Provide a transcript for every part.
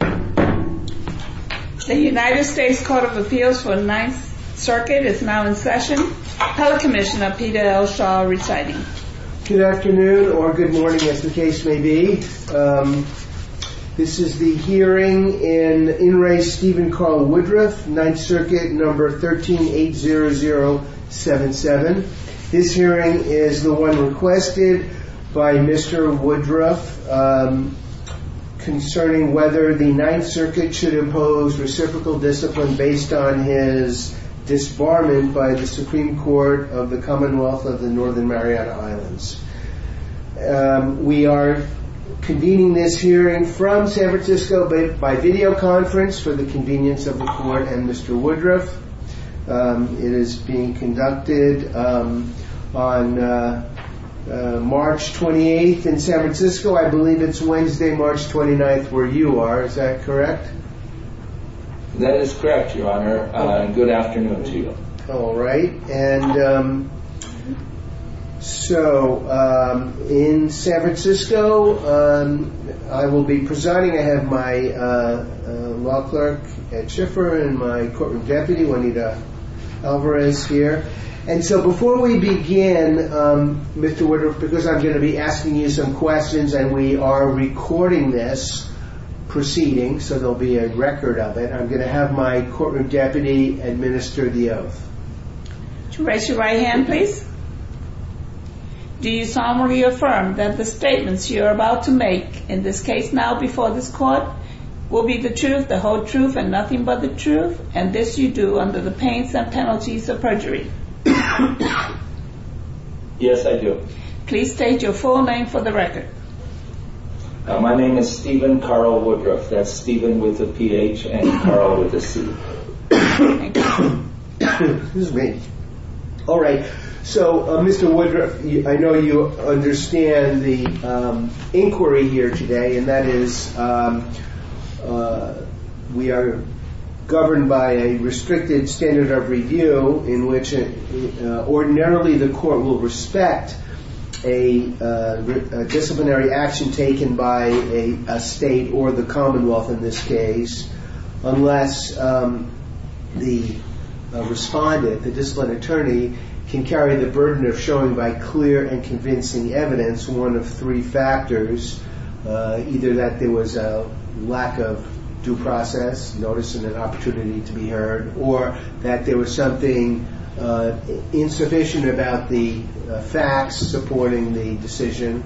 The United States Court of Appeals for the Ninth Circuit is now in session. Telecommissioner Peter Elshaw reciting. Good afternoon or good morning as the case may be. This is the hearing in In Re. Stephen Carl Woodruff, Ninth Circuit, No. 13-800-77. This hearing is the one requested by Mr. Woodruff concerning whether the Ninth Circuit should impose reciprocal discipline based on his disbarment by the Supreme Court of the Commonwealth of the Northern Mariana Islands. We are convening this hearing from San Francisco by videoconference for the convenience of the Court and Mr. Woodruff. It is being conducted on March 28th in San Francisco. I believe it's Wednesday, March 29th, where you are. Is that correct? That is correct, Your Honor. Good afternoon to you. All right. And so in San Francisco, I will be presiding. I have my law clerk, Ed Schiffer, and my courtroom deputy, Juanita Alvarez, here. And so before we begin, Mr. Woodruff, because I'm going to be asking you some questions and we are recording this proceeding so there will be a record of it, I'm going to have my courtroom deputy administer the oath. Raise your right hand, please. Do you solemnly affirm that the statements you are about to make, in this case now before this Court, will be the truth, the whole truth, and nothing but the truth, and this you do under the pains and penalties of perjury? Yes, I do. Please state your full name for the record. My name is Stephen Carl Woodruff. That's Stephen with a P-H and Carl with a C. All right. So, Mr. Woodruff, I know you understand the inquiry here today, and that is we are governed by a restricted standard of review in which ordinarily the Court will respect a disciplinary action taken by a state or the Commonwealth in this case, unless the respondent, the discipline attorney, can carry the burden of showing by clear and convincing evidence one of three factors, either that there was a lack of due process, notice of an opportunity to be heard, or that there was something insufficient about the facts supporting the decision,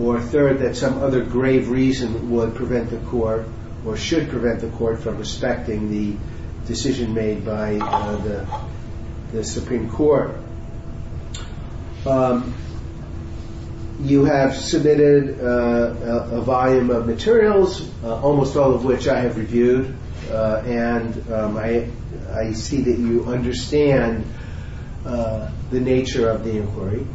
or third, that some other grave reason would prevent the Court, or should prevent the Court, from respecting the decision made by the Supreme Court. You have submitted a volume of materials, almost all of which I have reviewed, and I see that you understand the nature of the inquiry,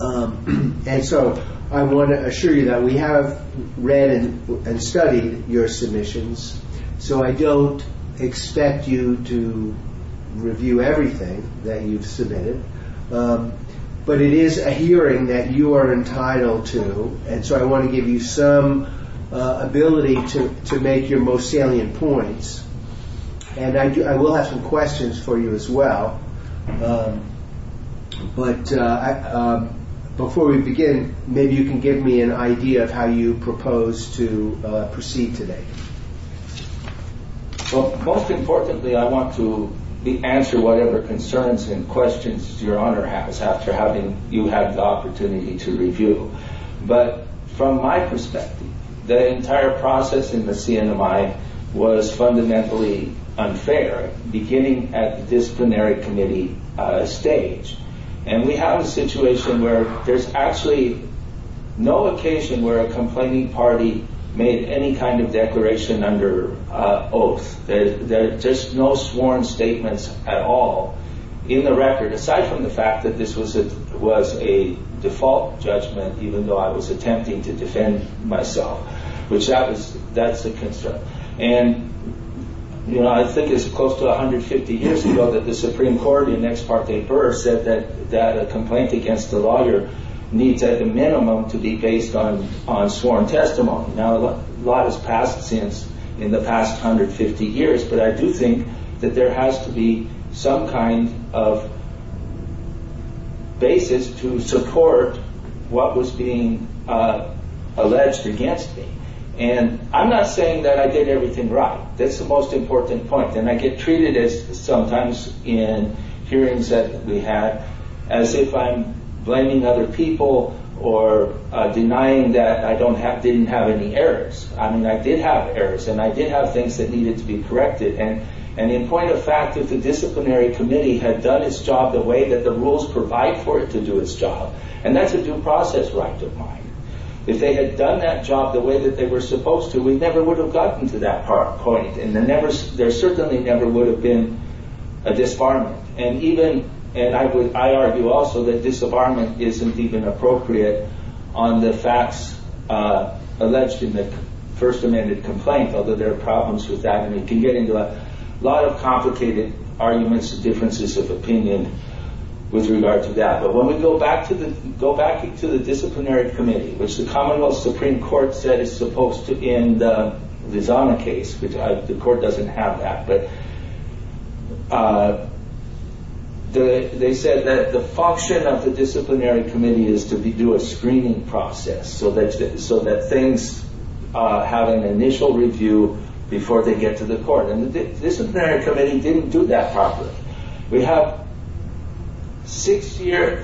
and so I want to assure you that we have read and studied your submissions, so I don't expect you to review everything that you've submitted, but it is a hearing that you are entitled to, and so I want to give you some ability to make your most salient points, and I will have some questions for you as well, but before we begin, maybe you can give me an idea of how you propose to proceed today. Well, most importantly, I want to answer whatever concerns and questions your Honor has after having you have the opportunity to review, but from my perspective, the entire process in the CNMI was fundamentally unfair, beginning at the disciplinary committee stage, and we have a situation where there is actually no occasion where a complaining party made any kind of declaration under oath. There are just no sworn statements at all in the record, aside from the fact that this was a default judgment, even though I was attempting to defend myself, which that is the concern. And, you know, I think it's close to 150 years ago that the Supreme Court in the next part they heard said that a complaint against a lawyer needs at the minimum to be based on sworn testimony. Now, a lot has passed since in the past 150 years, but I do think that there has to be some kind of basis to support what was being alleged against me, and I'm not saying that I did everything right. That's the most important point, and I get treated sometimes in hearings that we had as if I'm blaming other people or denying that I didn't have any errors. I mean, I did have errors, and I did have things that needed to be corrected. And in point of fact, if the disciplinary committee had done its job the way that the rules provide for it to do its job, and that's a due process right to find. If they had done that job the way that they were supposed to, we never would have gotten to that point, and there certainly never would have been a disarmament. And I argue also that disarmament isn't even appropriate on the facts alleged in the first amended complaint, although there are problems with that, and we can get into a lot of complicated arguments and differences of opinion with regard to that. But when we go back to the disciplinary committee, which the commonwealth supreme court said is supposed to end the Zana case, which the court doesn't have that, but they said that the function of the disciplinary committee is to do a screening process so that things have an initial review before they get to the court. And the disciplinary committee didn't do that properly. We have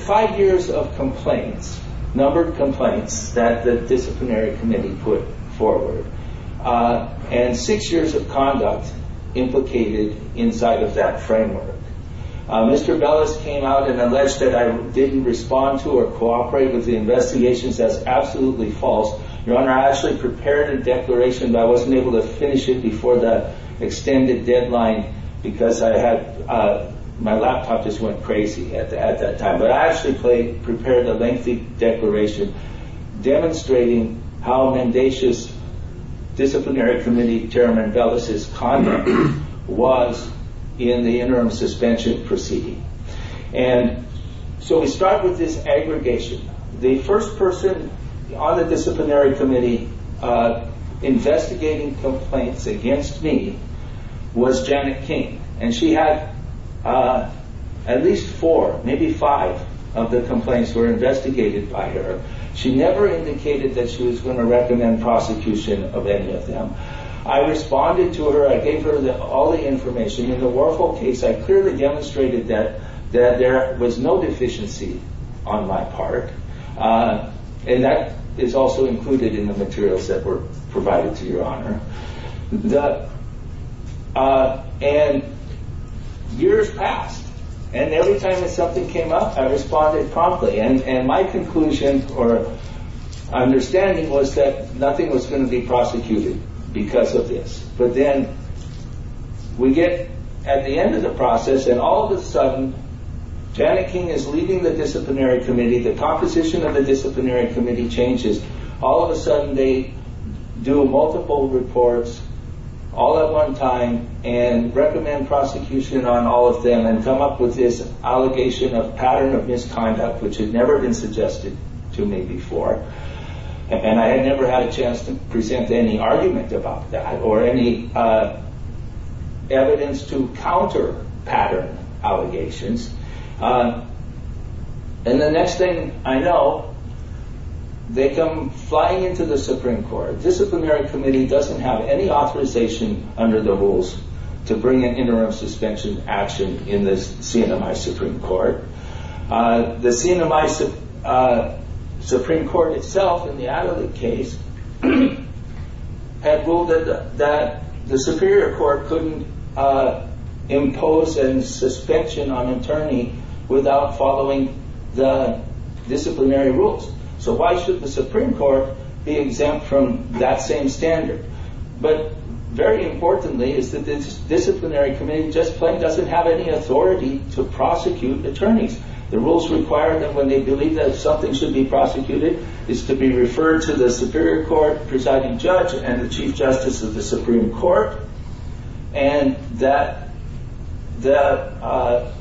five years of complaints, a number of complaints, that the disciplinary committee put forward, and six years of conduct implicated inside of that framework. Mr. Bellis came out and alleged that I didn't respond to or cooperate with the investigation. That is absolutely false. I actually prepared a declaration, but I wasn't able to finish it before the extended deadline because my laptop just went crazy at that time. But I actually prepared a lengthy declaration demonstrating how mendacious disciplinary committee chairman Bellis' conduct was in the interim suspension proceeding. And so we start with this aggregation. The first person on the disciplinary committee investigating complaints against me was Janet King. And she had at least four, maybe five of the complaints were investigated by her. She never indicated that she was going to recommend prosecution of any of them. I responded to her. I gave her all the information. In the Warhol case, I clearly demonstrated that there was no deficiency on my part, and that is also included in the materials that were provided to Your Honor. And years passed. And every time something came up, I responded promptly. And my conclusion or understanding was that nothing was going to be prosecuted because of this. But then we get at the end of the process, and all of a sudden, Janet King is leading the disciplinary committee. The composition of the disciplinary committee changes. All of a sudden, they do multiple reports all at one time and recommend prosecution on all of them and come up with this allegation of pattern of misconduct, which had never been suggested to me before. And I never had a chance to present any argument about that or any evidence to counter pattern allegations. And the next thing I know, they come flying into the Supreme Court. The disciplinary committee does not have any authorization under the rules to bring an interim suspension action in the Supreme Court. The Supreme Court itself in the case had ruled that the superior court could not impose a suspicion on an attorney without following the disciplinary rules. So, why should the Supreme Court be exempt from that same standard? But very importantly is that this disciplinary committee does not have any authority to prosecute attorneys. The rules require that when they believe that something should be prosecuted, it is to be referred to the superior court presiding judge and the chief justice of the Supreme Court. And that the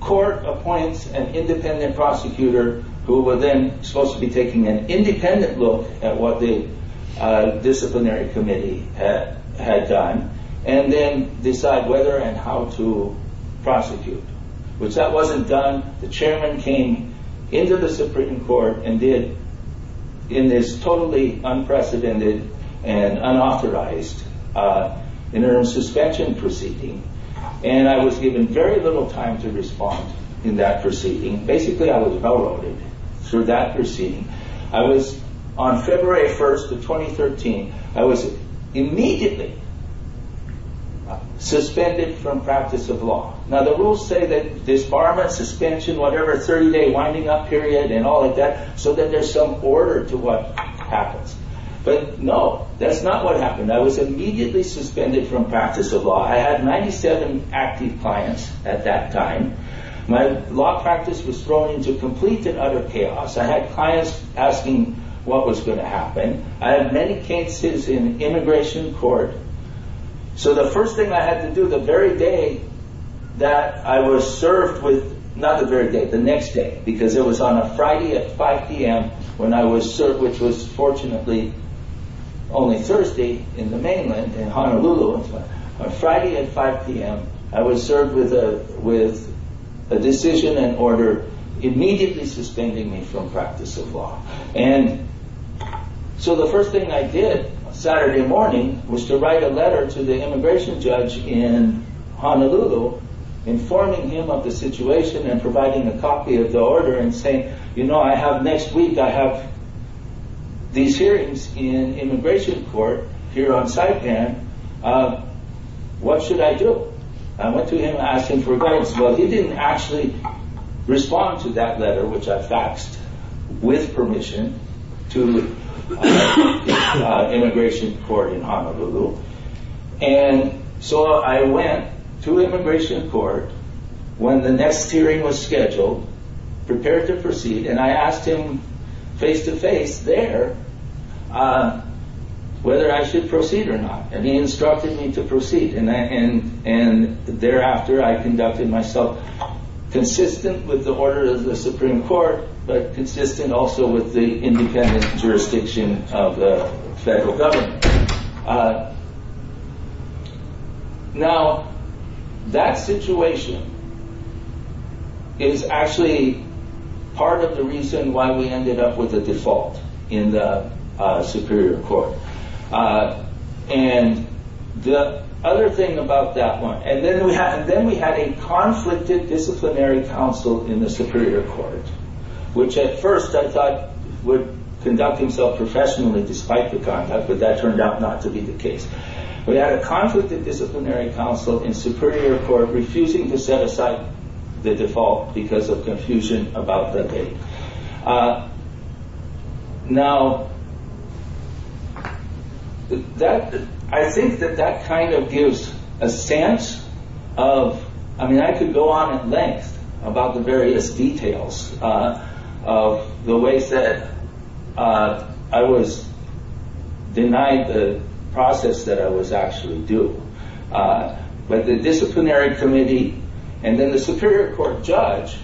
court appoints an independent prosecutor who was then supposed to be taking an independent look at what the disciplinary committee had done and then decide whether and how to prosecute. Once that wasn't done, the chairman came into the Supreme Court and did, in this totally unprecedented and unauthorized interim suspension proceeding, and I was given very little time to respond in that proceeding. Basically, I was well-rooted through that proceeding. I was on February 1st of 2013. I was immediately suspended from practice of law. Now, the rules say that there is a 30-day winding up period and all of that so that there is some order to what happens. But no, that is not what happened. I was immediately suspended from practice of law. I had 97 active clients at that time. My law practice was thrown into complete and utter chaos. I had clients asking what was going to happen. I had many cases in immigration court. So the first thing I had to do the very day that I was served with—not the very day, the next day, because it was on a Friday at 5 p.m. when I was served, which was fortunately only Thursday in the mainland, in Honolulu. On Friday at 5 p.m. I was served with a decision and order immediately suspending me from practice of law. So the first thing I did on Saturday morning was to write a letter to the immigration judge in Honolulu informing him of the situation and providing a copy of the order and saying, you know, next week I have these hearings in immigration court here on Saipan. What should I do? I went to him and asked him for guidance. Well, he didn't actually respond to that letter, which I faxed with permission to immigration court in Honolulu. And so I went to immigration court when the next hearing was scheduled, prepared to proceed, and I asked him face-to-face there whether I should proceed or not. And he instructed me to proceed, and thereafter I conducted myself consistent with the order of the Supreme Court, but consistent also with the independent jurisdiction of the federal government. Now, that situation is actually part of the reason why we ended up with a default in the Superior Court. And then we had a conflicted disciplinary counsel in the Superior Court, which at first I thought would conduct himself professionally despite the conduct, but that turned out not to be the case. We had a conflicted disciplinary counsel in the Superior Court refusing to set aside the default because of confusion about the date. Now, I think that that kind of gives a sense of, I mean, I could go on at length about the various details of the way that I was denied the process that I was actually due. But the disciplinary committee and then the Superior Court judge,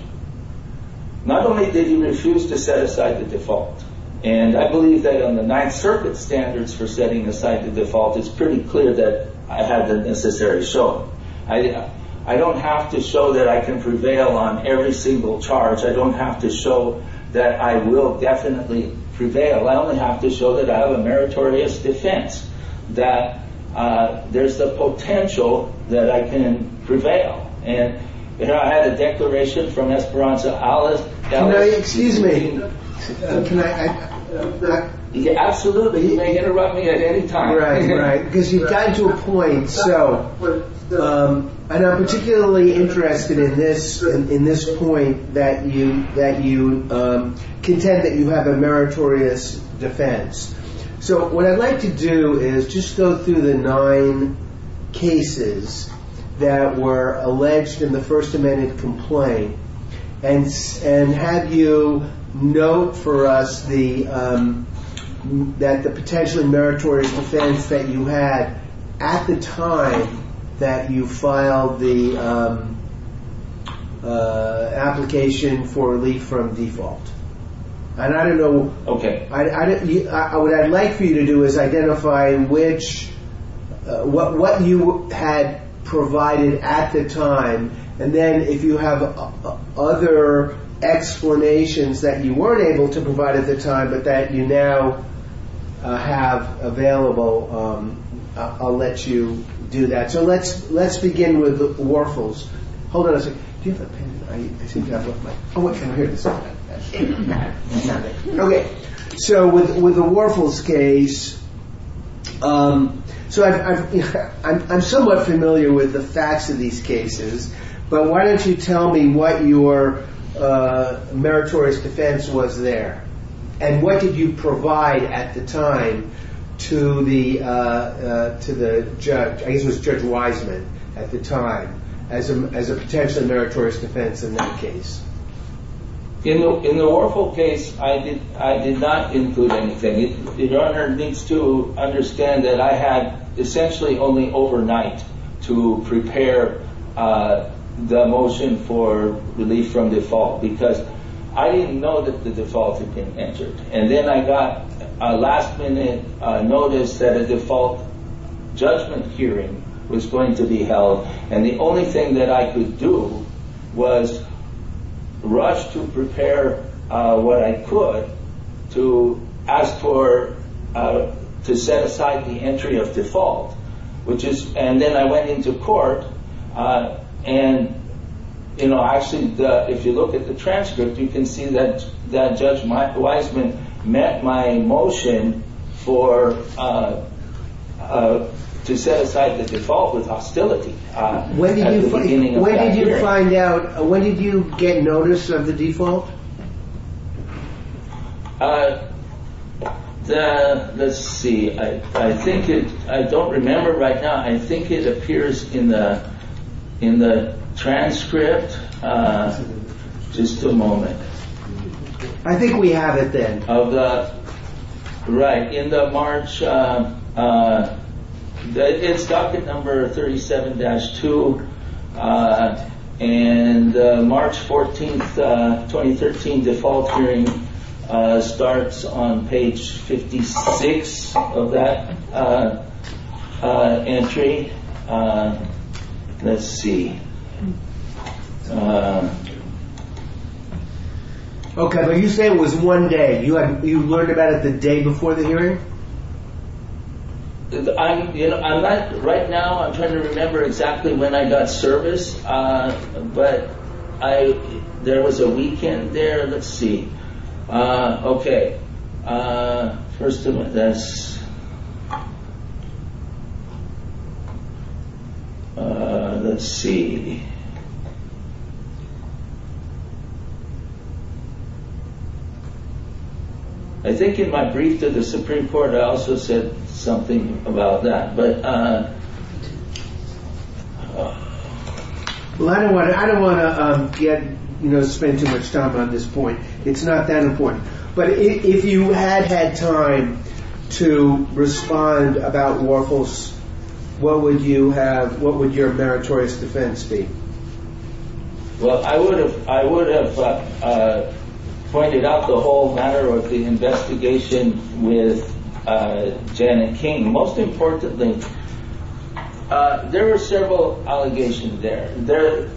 not only did he refuse to set aside the default, and I believe that on the Ninth Circuit standards for setting aside the default, it is pretty clear that I had the necessary show. I don't have to show that I can prevail on every single charge. I don't have to show that I will definitely prevail. I only have to show that I have a meritorious defense, that there's the potential that I can prevail. And, you know, I had a declaration from Esperanza Alas. Excuse me. Absolutely. You can interrupt me at any time. Right, right. Because you got to a point. So, I'm particularly interested in this point that you contend that you have a meritorious defense. So, what I'd like to do is just go through the nine cases that were alleged in the First Amendment complaint and have you note for us that the potential meritorious defense that you had at the time that you filed the application for a leak from default. Okay. What I'd like for you to do is identify what you had provided at the time, and then if you have other explanations that you weren't able to provide at the time, but that you now have available, I'll let you do that. So, let's begin with Warfel's. Hold on a second. Oh, okay. Okay. So, with the Warfel's case, I'm somewhat familiar with the facts of these cases, but why don't you tell me what your meritorious defense was there? And what did you provide at the time to the judge? I guess it was Judge Wiseman at the time as a potential meritorious defense in that case. In the Warfel case, I did not include anything. Your Honor needs to understand that I had essentially only overnight to prepare the motion for release from default because I didn't know that the default had been entered. And then I got a last-minute notice that a default judgment hearing was going to be held, and the only thing that I could do was rush to prepare what I could to set aside the entry of default. And then I went into court, and if you look at the transcript, you can see that Judge Wiseman met my motion to set aside the default with hostility. When did you get notice of the default? Let's see. I don't remember right now. I think it appears in the transcript. Just a moment. I think we have it then. Right, end of March. It's docket number 37-2, and March 14, 2013 default hearing starts on page 56 of that entry. Let's see. Okay, but you say it was one day. You learned about it the day before the hearing? Right now, I'm trying to remember exactly when I got service, but there was a weekend there. Let's see. Okay. First of all, that's... Let's see. I think in my brief to the Supreme Court, I also said something about that, but... Well, I don't want to get, you know, spend too much time on this point. It's not that important. But if you had had time to respond about Lorchel's, what would you have, what would your meritorious defense be? Well, I would have pointed out the whole matter of the investigation with Janet King. Most importantly, there were several allegations there.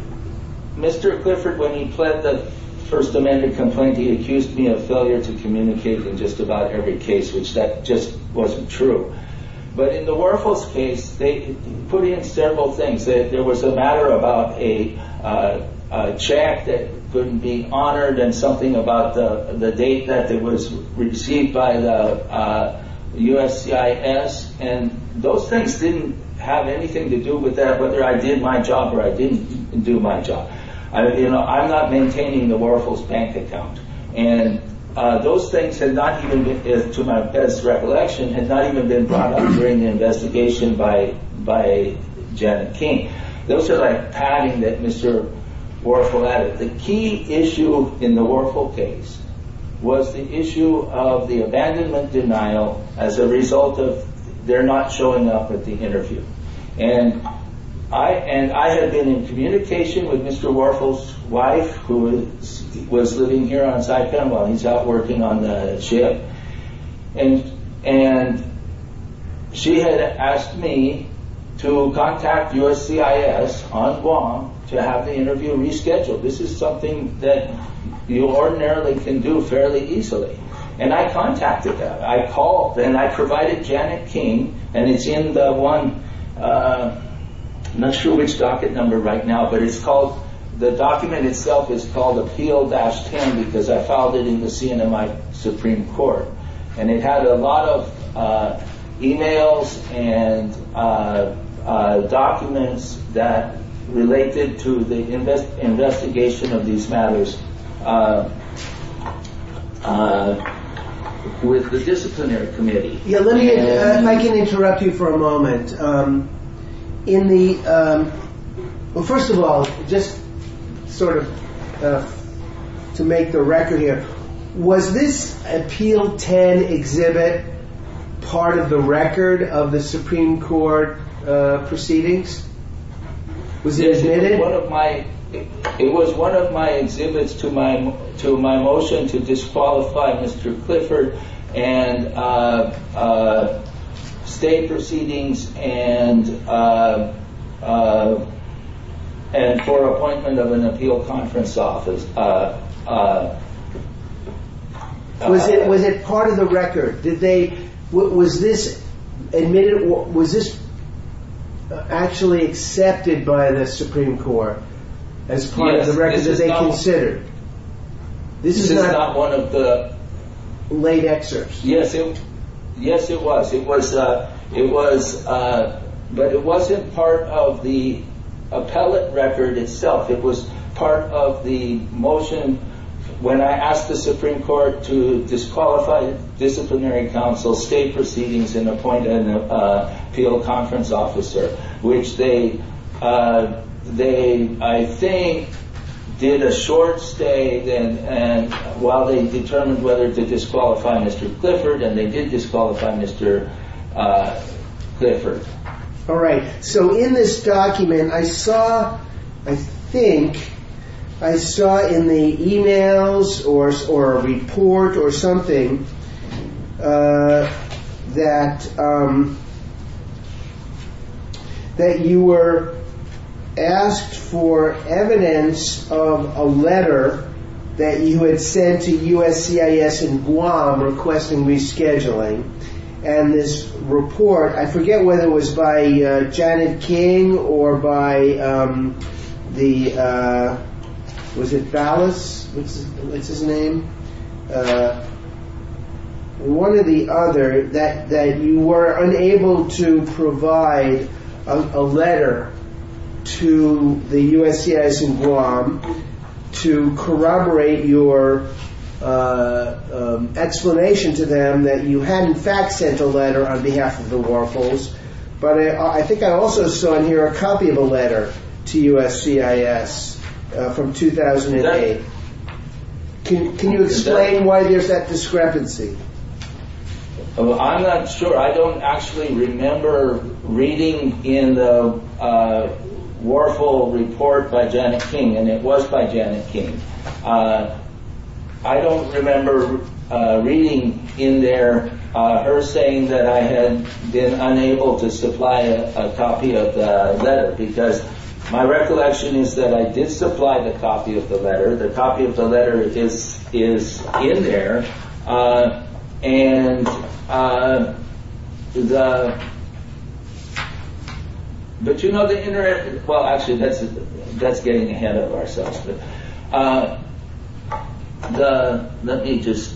Mr. Clifford, when he fled the First Amendment complaint, he accused me of failure to communicate in just about every case, which that just wasn't true. But in the Lorchel's case, they put in several things. There was a matter about a check that couldn't be honored and something about the date that it was received by the USCIS. And those things didn't have anything to do with that, whether I did my job or I didn't do my job. You know, I'm not maintaining the Lorchel's bank account. And those things, to my best recollection, had not even been brought up during the investigation by Janet King. Those are like padding that Mr. Lorchel added. The key issue in the Lorchel case was the issue of the abandonment denial as a result of their not showing up at the interview. And I had been in communication with Mr. Lorchel's wife, who was living here on Saipemba. He's out working on a ship. And she had asked me to contact USCIS on Guam to have the interview rescheduled. This is something that you ordinarily can do fairly easily. And I contacted them. And I provided Janet King. And it's in the one... I'm not sure which docket number right now, but it's called... The document itself is called Appeal-10 because I filed it in the CNMI Supreme Court. And it had a lot of emails and documents that related to the investigation of these matters. I can interrupt you for a moment. First of all, just sort of to make the record here, was this Appeal-10 exhibit part of the record of the Supreme Court proceedings? Was it? It was one of my exhibits to my motion to disqualify Mr. Clifford and state proceedings and for appointment of an appeal conference office. Was it part of the record? Was this admitted? Was this actually accepted by the Supreme Court as part of the record that they considered? This is not one of the late excerpts. Yes, it was. But it wasn't part of the appellate record itself. It was part of the motion when I asked the Supreme Court to disqualify disciplinary counsel, state proceedings, and appoint an appeal conference officer, which they, I think, did a short stay in while they determined whether to disqualify Mr. Clifford. And they did disqualify Mr. Clifford. All right. So in this document, I saw, I think, I saw in the e-mails or a report or something that you were asked for evidence of a letter that you had sent to USCIS in Guam requesting rescheduling. And this report, I forget whether it was by Janet King or by the, was it Thales? What's his name? One or the other, that you were unable to provide a letter to the USCIS in Guam to corroborate your explanation to them that you had, in fact, sent a letter on behalf of the Warhols. But I think I also saw in here a copy of a letter to USCIS from 2008. Can you explain why there's that discrepancy? Well, I'm not sure. I don't actually remember reading in the Warhol report by Janet King, and it was by Janet King. I don't remember reading in there her saying that I had been unable to supply a copy of the letter, because my recollection is that I did supply the copy of the letter. The copy of the letter is in there. And the, but you know the inter- Well, actually, that's getting ahead of ourselves. The, let me just.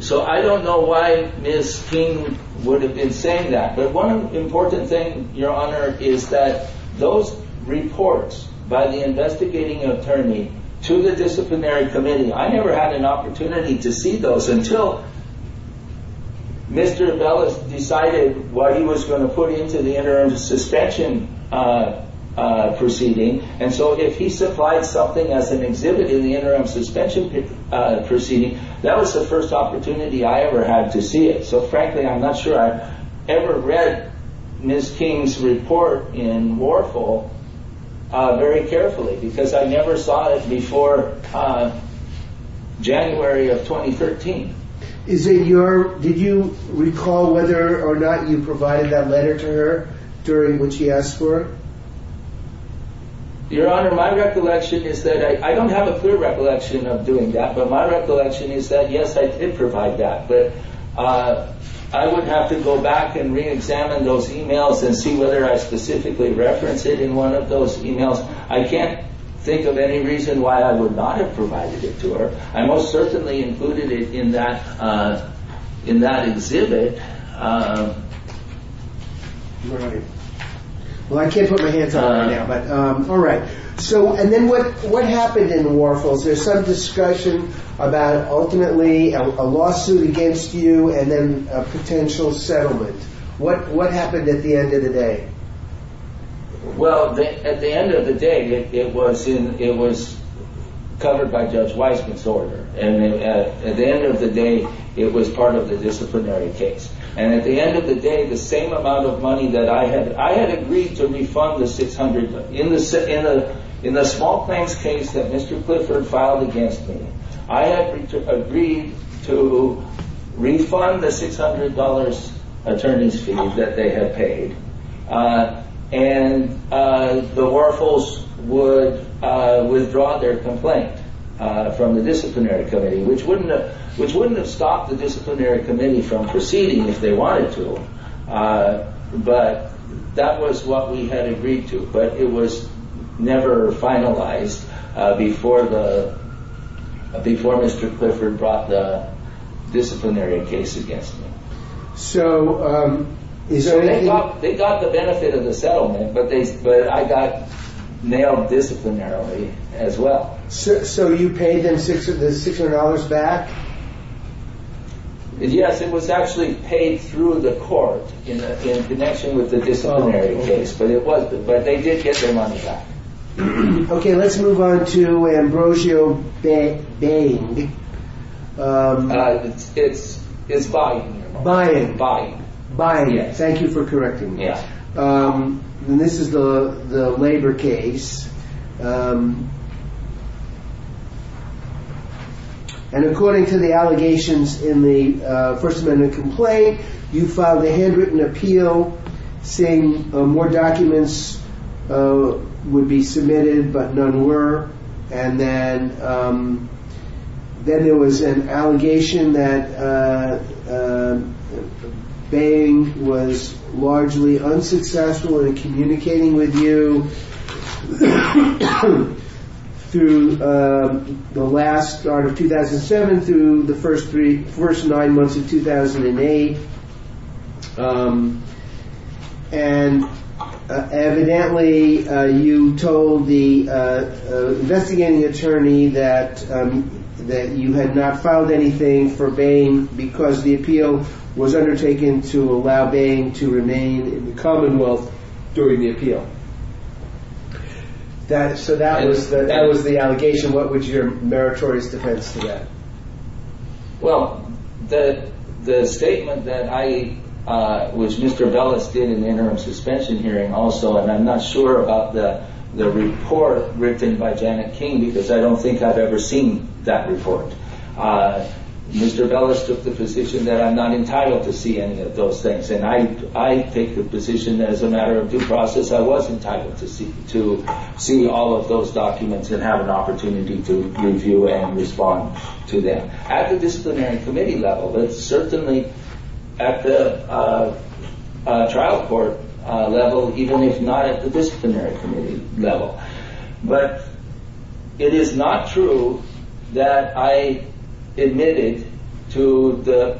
So I don't know why Ms. King would have been saying that. But one important thing, Your Honor, is that those reports by the investigating attorney to the disciplinary committee, I never had an opportunity to see those until Mr. Ellis decided what he was going to put into the interim suspension proceeding. And so if he supplied something as an exhibit in the interim suspension proceeding, that was the first opportunity I ever had to see it. So frankly, I'm not sure I ever read Ms. King's report in Warhol very carefully, because I never saw it before January of 2013. Is it your, did you recall whether or not you provided that letter to her during what she asked for? Your Honor, my recollection is that, I don't have a clear recollection of doing that, but my recollection is that yes, I did provide that. But I would have to go back and re-examine those emails and see whether I specifically referenced it in one of those emails. I can't think of any reason why I would not have provided it to her. I most certainly included it in that exhibit. Well, I can't put my hands on it right now, but all right. So, and then what happened in Warhol's, there's some discussion about ultimately a lawsuit against you and then a potential settlement. What happened at the end of the day? Well, at the end of the day, it was covered by Judge Weiss' disorder. And at the end of the day, it was part of the disciplinary case. And at the end of the day, the same amount of money that I had, I had agreed to refund the $600. In the small claims case that Mr. Clifford filed against me, I had agreed to refund the $600 attorney's fee that they had paid. And the Warhols would withdraw their complaint from the disciplinary committee, which wouldn't have stopped the disciplinary committee from proceeding if they wanted to. But that was what we had agreed to. But it was never finalized before Mr. Clifford brought the disciplinary case against me. So, is there any... They got the benefit of the settlement, but I got nailed disciplinarily as well. So, you paid them $600 back? Yes, it was actually paid through the court in connection with the disciplinary case. But they did get their money back. Okay, let's move on to Ambrosio Dain. It's buying. Buying. Buying, yes. Thank you for correcting me. Yes. And this is the labor case. And according to the allegations in the First Amendment complaint, you filed a handwritten appeal saying more documents would be submitted, but none were. And then there was an allegation that Bain was largely unsuccessful in communicating with you through the last... or 2007 through the first nine months of 2008. And evidently, you told the investigating attorney that you had not filed anything for Bain because the appeal was undertaken to allow Bain to remain in the Commonwealth during the appeal. So, that was the allegation. What was your meritorious defense to that? Well, the statement that I, which Mr. Bellis did in the interim suspension hearing also, and I'm not sure about the report written by Janet King because I don't think I've ever seen that report. Mr. Bellis took the position that I'm not entitled to see any of those things. And I take the position that as a matter of due process, I was entitled to see all of those documents and have an opportunity to review and respond to them. At the disciplinary committee level, it's certainly at the trial court level, even if not at the disciplinary committee level. But it is not true that I admitted to the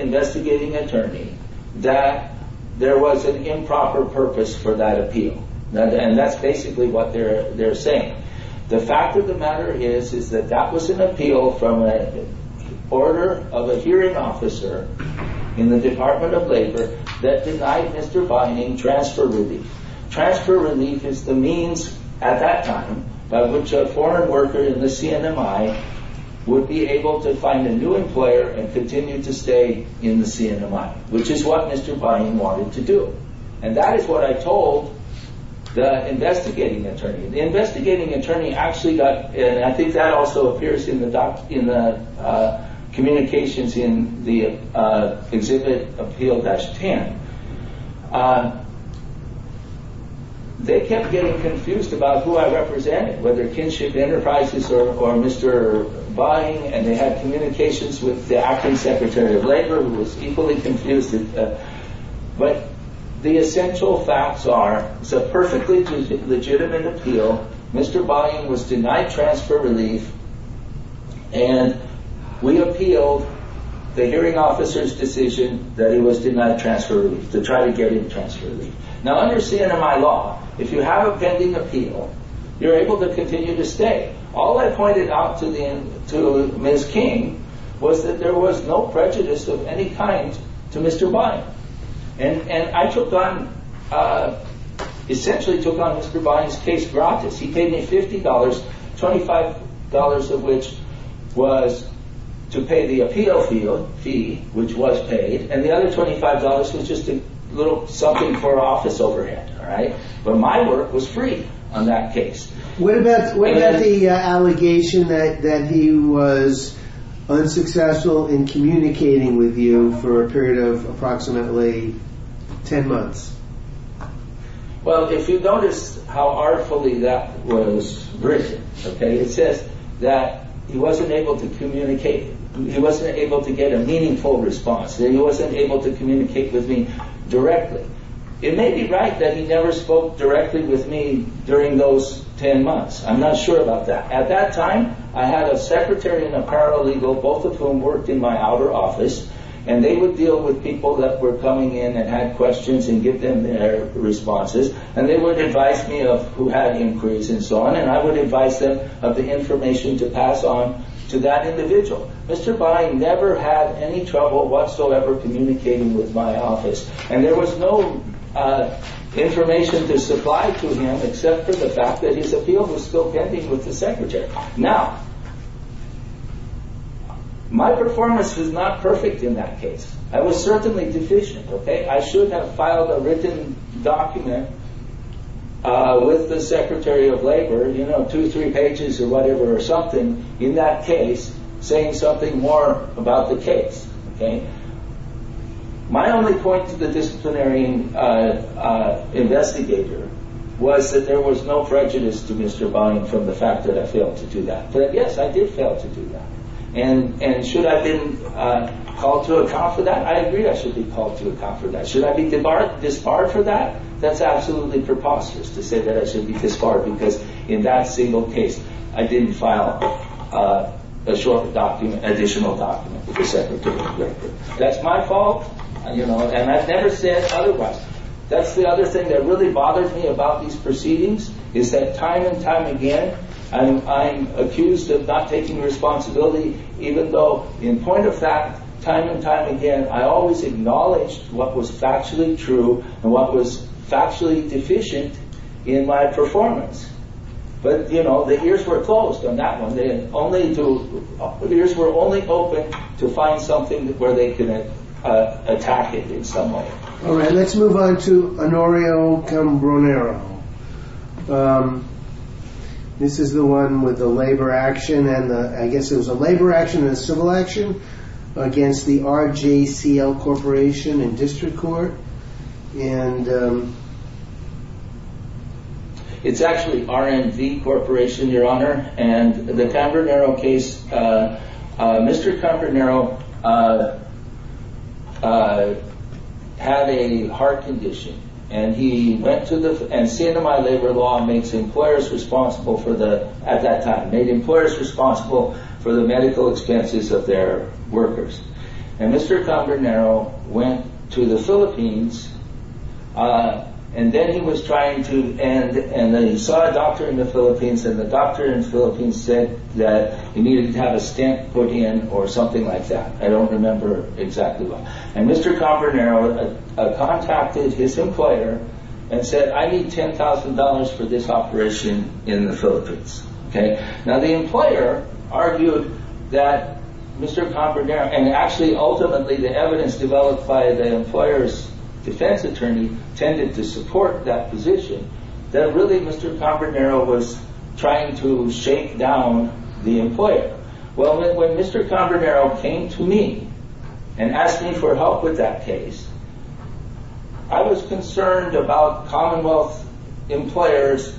investigating attorney that there was an improper purpose for that appeal. And that's basically what they're saying. The fact of the matter is that that was an appeal from an order of a hearing officer in the Department of Labor that denied Mr. Bain transfer relief. Transfer relief is the means at that time by which a former worker in the CNMI would be able to find a new employer and continue to stay in the CNMI, which is what Mr. Bain wanted to do. And that is what I told the investigating attorney. The investigating attorney actually got – and I think that also appears in the communications in the exhibit Appeal-10. They kept getting confused about who I represented, whether Kinship Enterprises or Mr. Bain. And they had communications with the acting secretary of labor, who was equally confused as them. But the essential facts are, it's a perfectly legitimate appeal. Mr. Bain was denied transfer relief. And we appealed the hearing officer's decision that he was denied transfer relief, to try to get him transfer relief. Now, under CNMI law, if you have a pending appeal, you're able to continue to stay. All I pointed out to Ms. King was that there was no prejudice of any kind to Mr. Bain. And I took on – essentially took on Mr. Bain's case for office. He paid me $50, $25 of which was to pay the appeal fee, which was paid. And the other $25 was just a little something for office overhead. But my work was free on that case. What about the allegation that he was unsuccessful in communicating with you for a period of approximately 10 months? Well, if you notice how artfully that was written, it says that he wasn't able to communicate with me. He wasn't able to get a meaningful response. He wasn't able to communicate with me directly. It may be right that he never spoke directly with me during those 10 months. I'm not sure about that. At that time, I had a secretary and a paralegal, both of whom worked in my outer office. And they would deal with people that were coming in and had questions and give them their responses. And they would advise me of who had inquiries and so on. And I would advise them of the information to pass on to that individual. Mr. Bain never had any trouble whatsoever communicating with my office. And there was no information to supply to him except for the fact that his appeal was still pending with the secretary. Now, my performance was not perfect in that case. I was certainly deficient. I should have filed a written document with the secretary of labor, you know, two, three pages or whatever or something, in that case, saying something more about the case. My only point to the disciplinary investigator was that there was no prejudice to Mr. Bain from the fact that I failed to do that. But, yes, I did fail to do that. And should I have been called to account for that? I agree I should be called to account for that. Should I be debarred this far for that? That's absolutely preposterous to say that I should be disbarred because in that single case I didn't file a short document, additional document, with the secretary of labor. That's my fault, you know, and I'd better say it otherwise. That's the other thing that really bothers me about these proceedings is that time and time again I'm accused of not taking responsibility, even though, in point of fact, time and time again I always acknowledge what was factually true and what was factually deficient in my performance. But, you know, the ears were closed on that one. The ears were only open to find something where they could attack it in some way. Let's move on to Honorio Cambronero. This is the one with the labor action, and I guess it was a labor action and a civil action against the RJCL Corporation and District Court. And it's actually R&D Corporation, Your Honor, and the Cambronero case, Mr. Cambronero had a heart condition. And he went to the, and stand to my labor law and made employers responsible for the, at that time, made employers responsible for the medical expenses of their workers. And Mr. Cambronero went to the Philippines, and then he was trying to, and then he saw a doctor in the Philippines, and the doctor in the Philippines said that he needed to have a stent put in or something like that. I don't remember exactly what. And Mr. Cambronero contacted his employer and said, I need $10,000 for this operation in the Philippines. Now, the employer argued that Mr. Cambronero, and actually, ultimately, the evidence developed by the employer's defense attorney tended to support that position, that really Mr. Cambronero was trying to shake down the employer. Well, then, when Mr. Cambronero came to me and asked me for help with that case, I was concerned about Commonwealth employers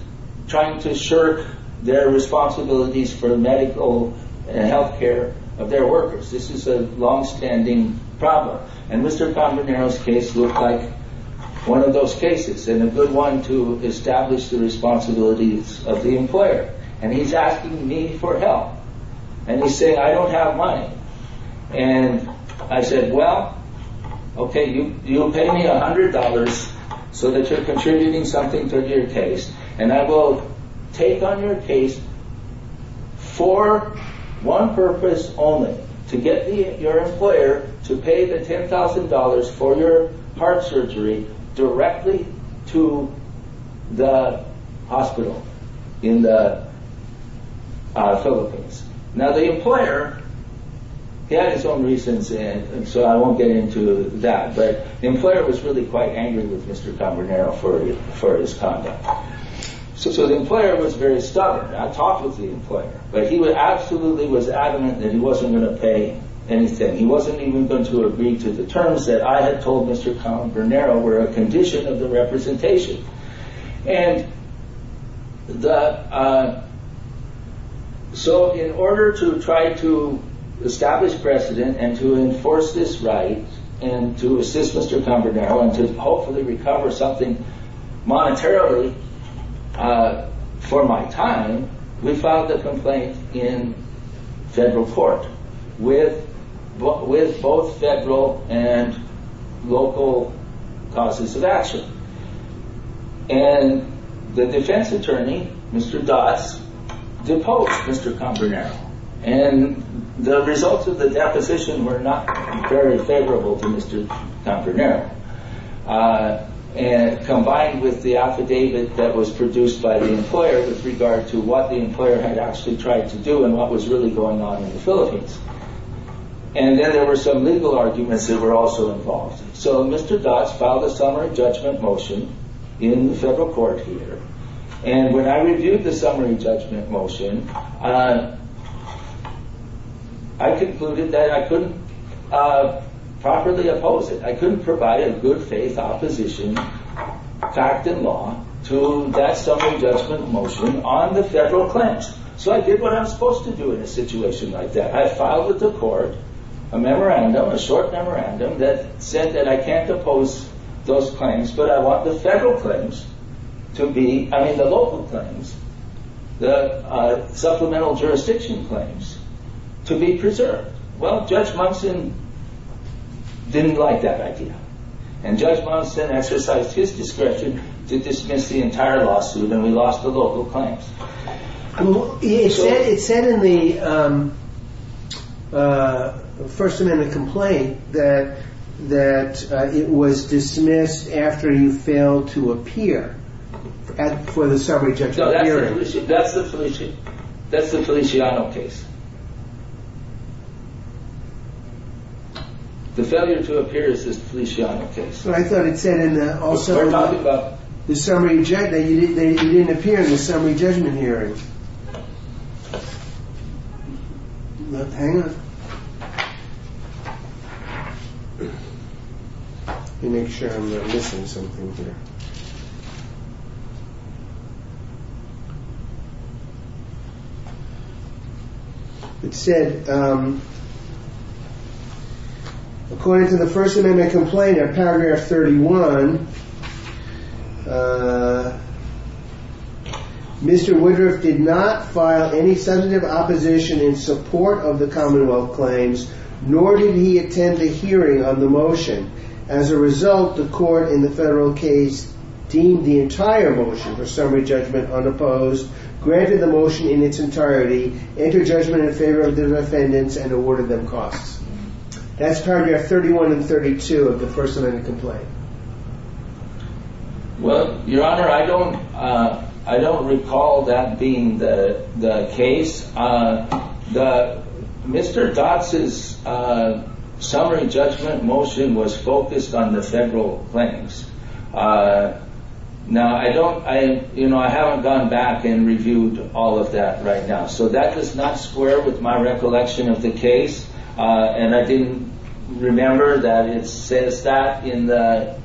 trying to shirk their responsibilities for medical and health care of their workers. This is a longstanding problem. And Mr. Cambronero's case looked like one of those cases, and a good one to establish the responsibilities of the employer. And he's asking me for help. And he said, I don't have money. And I said, well, okay, you'll pay me $100 so that you're contributing something to your case. And I go, take on your case for one purpose only, to get your employer to pay the $10,000 for your heart surgery directly to the hospital in the Philippines. Now, the employer had his own reasons, and so I won't get into that. But the employer was really quite angry with Mr. Cambronero for his conduct. So the employer was very stubborn. I talked with the employer. But he absolutely was adamant that he wasn't going to pay anything. He wasn't even going to agree to the terms that I had told Mr. Cambronero were a condition of the representation. And so in order to try to establish precedent and to enforce this right and to assist Mr. Cambronero and to hopefully recover something monetarily for my time, we filed a complaint in federal court with both federal and local causes of action. And the defense attorney, Mr. Das, deposed Mr. Cambronero. And the results of the deposition were not very favorable to Mr. Cambronero. Combined with the affidavit that was produced by the employer with regard to what the employer had actually tried to do and what was really going on in the Philippines. And then there were some legal arguments that were also involved. So Mr. Das filed a summary judgment motion in the federal court here. And when I reviewed the summary judgment motion, I concluded that I couldn't properly oppose it. I couldn't provide a good-faith opposition, fact and law, to that summary judgment motion on the federal claims. So I did what I'm supposed to do in a situation like that. I filed with the court a short memorandum that said that I can't oppose those claims, but I want the local claims, the supplemental jurisdiction claims, to be preserved. Well, Judge Monson didn't like that idea. And Judge Monson exercised his discretion to dismiss the entire lawsuit, and we lost the local claims. It said in the first amendment complaint that it was dismissed after you failed to appear for the summary judgment hearing. That's the Feliciano case. The failure to appear is the Feliciano case. So I thought it said in the summary judgment that you didn't appear in the summary judgment hearing. Hang on. Let me make sure I'm not missing something here. It said, according to the first amendment complaint in paragraph 31, Mr. Woodruff did not file any sensitive opposition in support of the commonwealth claims, nor did he attend a hearing of the motion. As a result, the court in the federal case deemed the entire motion for summary judgment unopposed, granted the motion in its entirety, entered judgment in favor of the defendants, and awarded them costs. That's paragraph 31 and 32 of the first amendment complaint. Well, Your Honor, I don't recall that being the case. Mr. Dodds's summary judgment motion was focused on the federal claims. Now, I haven't gone back and reviewed all of that right now, so that does not square with my recollection of the case, and I didn't remember that it says that in the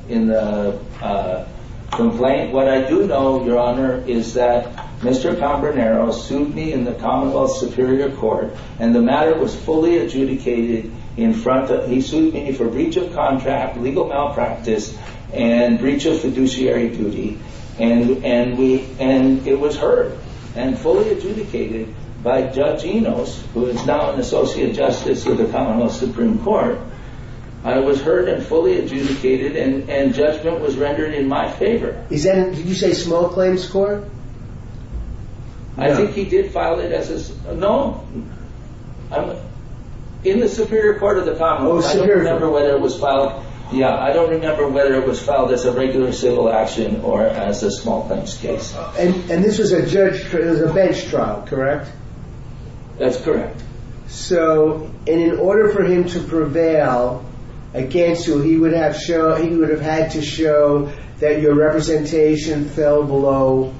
complaint. What I do know, Your Honor, is that Mr. Calderonero sued me in the commonwealth superior court, and the matter was fully adjudicated in front of me. He sued me for breach of contract, legal malpractice, and breach of fiduciary duty, and it was heard and fully adjudicated by Judge Enos, who is now an associate justice of the commonwealth supreme court. It was heard and fully adjudicated, and judgment was rendered in my favor. Did you say small claims court? I think he did file it as a... No. In the superior court of the commonwealth, I don't remember whether it was filed as a regular civil action or as a small claims case. And this is a judge-court-of-defense trial, correct? That's correct. So, in order for him to prevail against you, he would have had to show that your representation fell below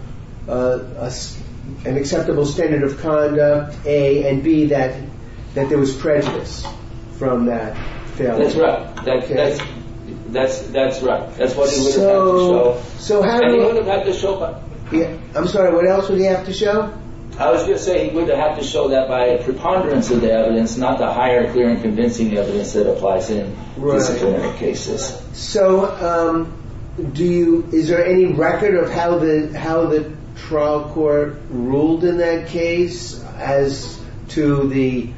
an acceptable standard of conduct, A, and B, that there was precedence from that. That's right. That's what he would have had to show. I'm sorry, what else would he have to show? I was just saying, he would have had to show that by a preponderance of the evidence, not by higher theory convincing evidence that applies to any particular cases. So, is there any record of how the trial court ruled in that case as to the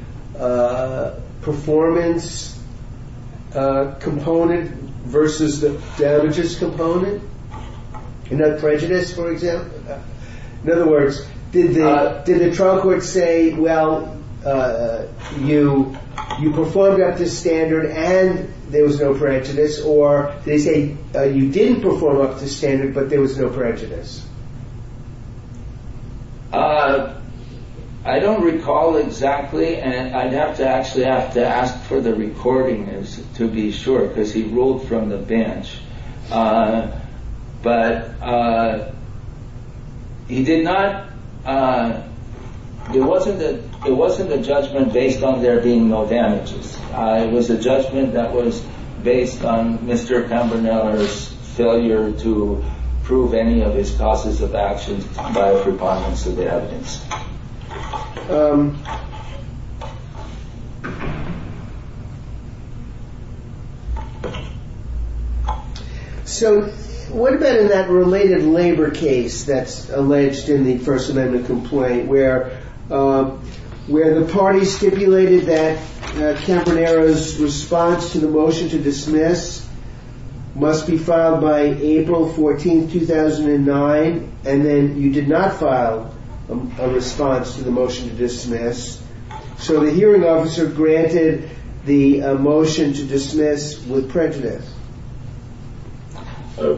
performance component versus the damages component? In other words, prejudice, for example? In other words, did the trial court say, well, you performed up to standard and there was no prejudice, or did they say you didn't perform up to standard but there was no prejudice? I don't recall exactly, and I'd have to actually have to ask for the recordings to be sure, because he ruled from the bench. But he did not, it wasn't a judgment based on there being no damages. It was a judgment that was based on Mr. Campanella's failure to prove any of his causes of action by a preponderance of the evidence. So, what about in that related labor case that's alleged in the First Amendment complaint, where the party stipulated that Campanella's response to the motion to dismiss must be filed by April 14, 2009, and then you did not file a response to the motion to dismiss. So, the hearing officer granted the motion to dismiss with prejudice.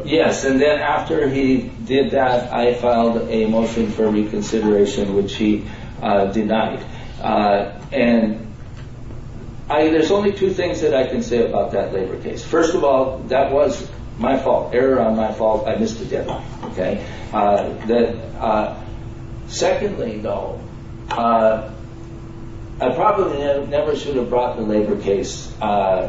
Yes, and then after he did that, I filed a motion for reconsideration, which he denied. And there's only two things that I can say about that labor case. First of all, that was my fault. Error on my fault. I missed a deadline. Secondly, though, I probably never should have brought the labor case at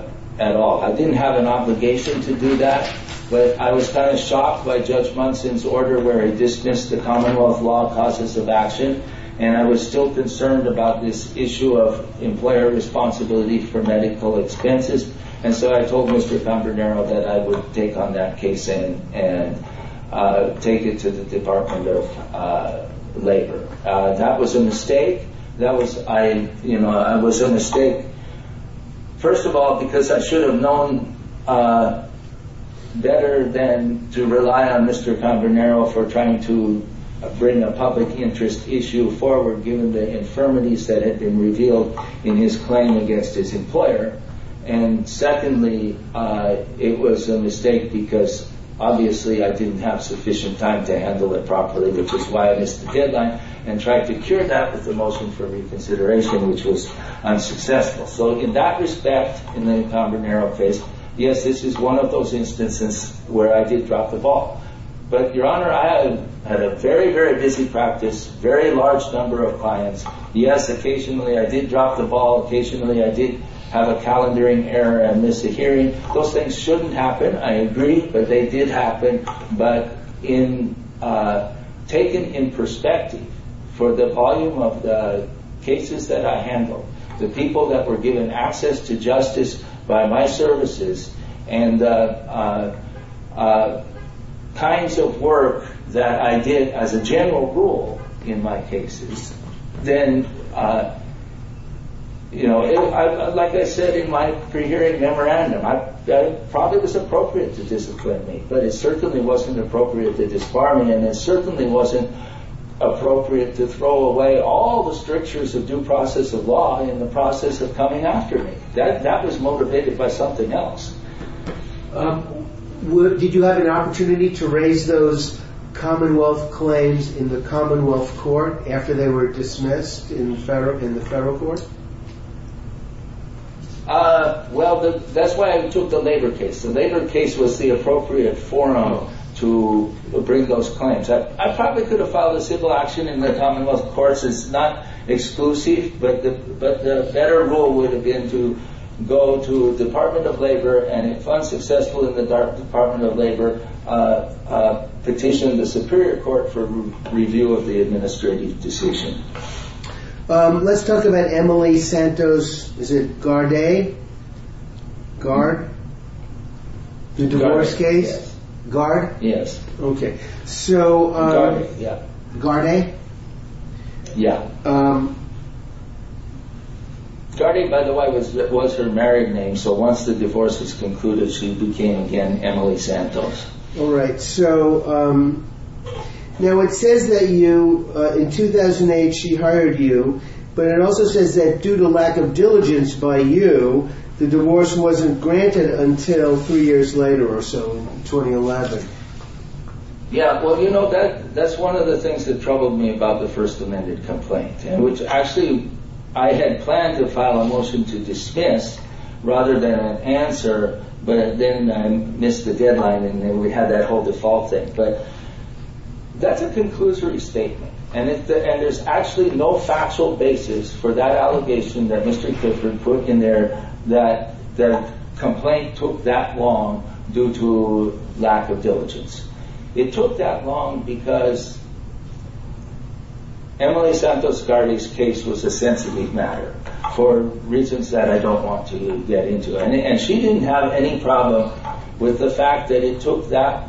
all. I didn't have an obligation to do that, but I was kind of shocked by Judge Munson's order where he dismissed the Commonwealth law causes of action, and I was still concerned about this issue of employer responsibility for medical expenses. And so, I told Mr. Campanella that I would take on that case and take it to the Department of Labor. That was a mistake. That was, I, you know, I was a mistake, first of all, because I should have known better than to rely on Mr. Campanella for trying to bring a public interest issue forward given the infirmities that had been revealed in his claim against his employer. And secondly, it was a mistake because, obviously, I didn't have sufficient time to handle it properly, which is why I missed the deadline and tried to cure that with a motion for reconsideration, which was unsuccessful. So, in that respect, in the Conrad Merrill case, yes, this is one of those instances where I did drop the ball. But, Your Honor, I had a very, very busy practice, a very large number of clients. Yes, occasionally I did drop the ball. Occasionally I did have a calendaring error and missed a hearing. Those things shouldn't happen. I agree that they did happen. But, taken in perspective for the volume of the cases that I handled, the people that were given access to justice by my services, and the kinds of work that I did as a general rule in my cases, then, you know, like I said in my pre-hearing memorandum, it probably was appropriate to discipline me, but it certainly wasn't appropriate to disbar me, and it certainly wasn't appropriate to throw away all the strictures of due process of law in the process of coming after me. That was motivated by something else. Did you have an opportunity to raise those Commonwealth claims in the Commonwealth Court after they were dismissed in the federal court? Well, that's why I took the labor case. The labor case was the appropriate forum to bring those claims. I probably could have filed a civil action in the Commonwealth Courts. It's not exclusive, but the better rule would have been to go to the Department of Labor, and if unsuccessful at the Department of Labor, petition the Superior Court for review of the administrative decision. Let's talk about Emily Santos. Is it Garday? Gar? The divorce case? Garday, yes. Gard? Yes. Garday? Yeah. Garday, by the way, was her married name, so once the divorce was concluded, she became again Emily Santos. All right. So, now it says that you, in 2008 she hired you, but it also says that due to lack of diligence by you, the divorce wasn't granted until three years later or so, 2011. Yeah, well, you know, that's one of the things that troubled me about the First Amendment complaint, which actually I had planned to file a motion to dismiss rather than answer, but then missed the deadline and we had that whole default thing. But that's a conclusory statement, and there's actually no factual basis for that allegation that Mr. Clifford put in there that the complaint took that long due to lack of diligence. It took that long because Emily Santos Garday's case was a sensitive matter for reasons that I don't want to get into, and she didn't have any problem with the fact that it took that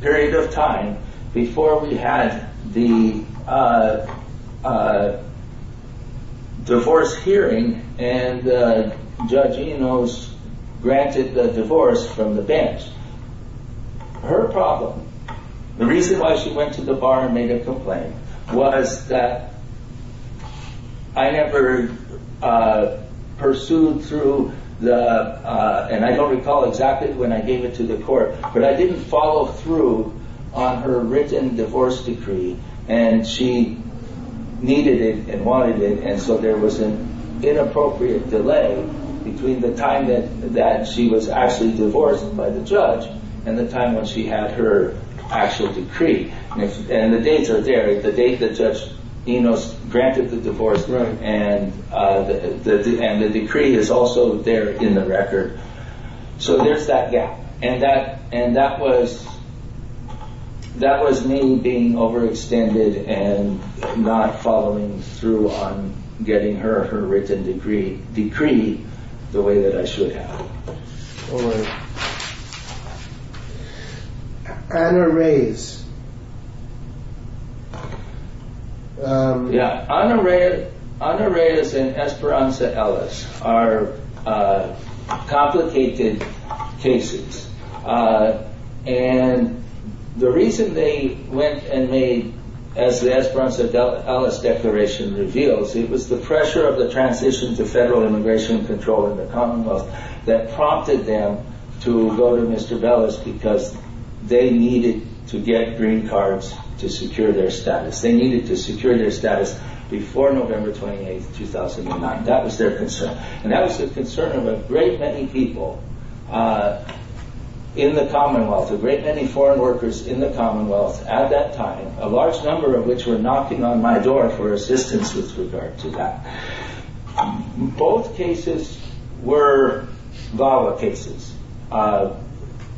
period of time before we had the divorce hearing and Judge Enos granted the divorce from the bench. Her problem, the reason why she went to the bar and made a complaint, was that I never pursued through the, and I don't recall exactly when I gave it to the court, but I didn't follow through on her written divorce decree, and she needed it and wanted it, and so there was an inappropriate delay between the time that she was actually divorced by the judge and the time when she had her actual decree, and the dates are there. Anyway, the date that Judge Enos granted the divorce, and the decree is also there in the record, so there's that gap, and that was me being overextended and not following through on getting her written decree the way that I should have. Honor Reyes and Esperanza Ellis are complicated cases, and the reason they went and made, as the Esperanza Ellis declaration reveals, it was the pressure of the transition to federal immigration control in the Commonwealth that prompted them to go to Mr. Ellis because they needed to get green cards to secure their status. They needed to secure their status before November 28, 2009. That was their concern, and that was the concern of a great many people in the Commonwealth, a great many foreign workers in the Commonwealth at that time, a large number of which were knocking on my door for assistance with regard to that. Both cases were valid cases.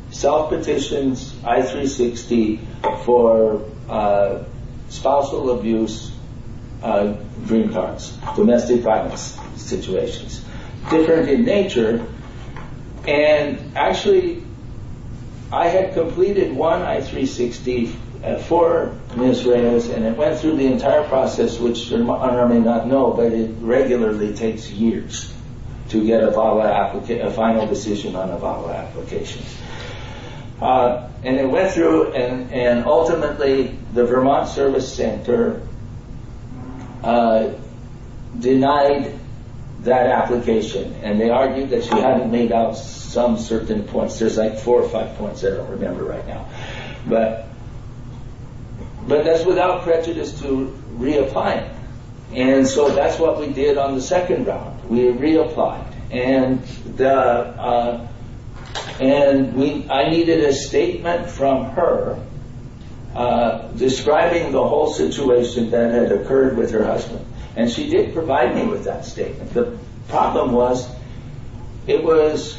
Self-petitioned I-360 for spousal abuse, green cards, domestic violence situations, different in nature, and actually I had completed one I-360 for Mr. Ellis, and it went through the entire process, which Honor may not know, but it regularly takes years to get a final decision on a VAWA application, and it went through, and ultimately the Vermont Service Center denied that application, and they argued that she hadn't made out some certain points. There's like four or five points I don't remember right now, but that's without prejudice to reapplying, and so that's what we did on the second round. We reapplied, and I needed a statement from her describing the whole situation that had occurred with her husband, and she did provide me with that statement. The problem was it was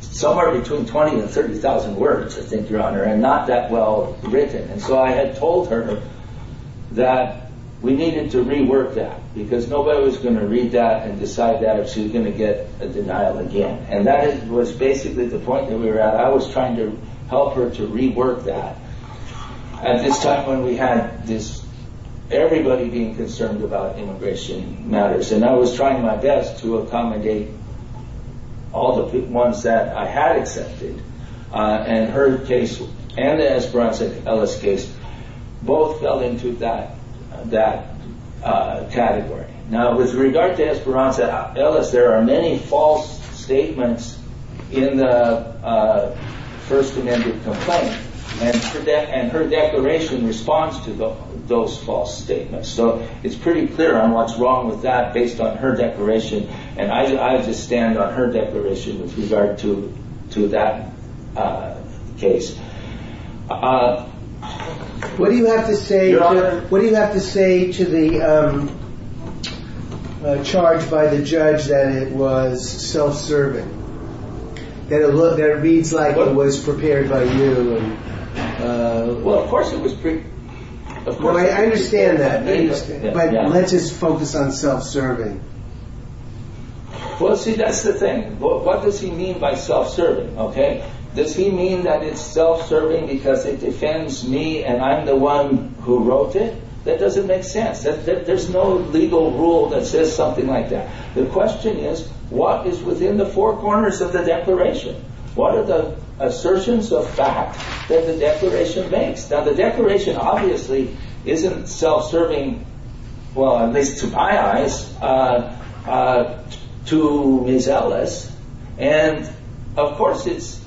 somewhere between 20,000 and 30,000 words, I think, Your Honor, and not that well written, and so I had told her that we needed to rework that because nobody was going to read that and decide that if she was going to get a denial again, and that was basically the point that we were at. But I was trying to help her to rework that at this time when we had everybody being concerned about immigration matters, and I was trying my best to accommodate all the ones that I had accepted, and her case and Esperanza Ellis' case both fell into that category. Now, with regard to Esperanza Ellis, there are many false statements in the first amendment complaint, and her declaration responds to those false statements, so it's pretty clear on what's wrong with that based on her declaration, and I have to stand on her declaration with regard to that case. What do you have to say to the charge by the judge that it was self-serving, that it reads like it was prepared by you? Well, of course it was prepared. I understand that, but let's just focus on self-serving. Well, see, that's the thing. What does he mean by self-serving? Does he mean that it's self-serving because it defends me and I'm the one who wrote it? That doesn't make sense. There's no legal rule that says something like that. The question is, what is within the four corners of the declaration? What are the assertions of fact that the declaration makes? Now, the declaration obviously isn't self-serving, at least to my eyes, to Ms. Ellis, and of course it's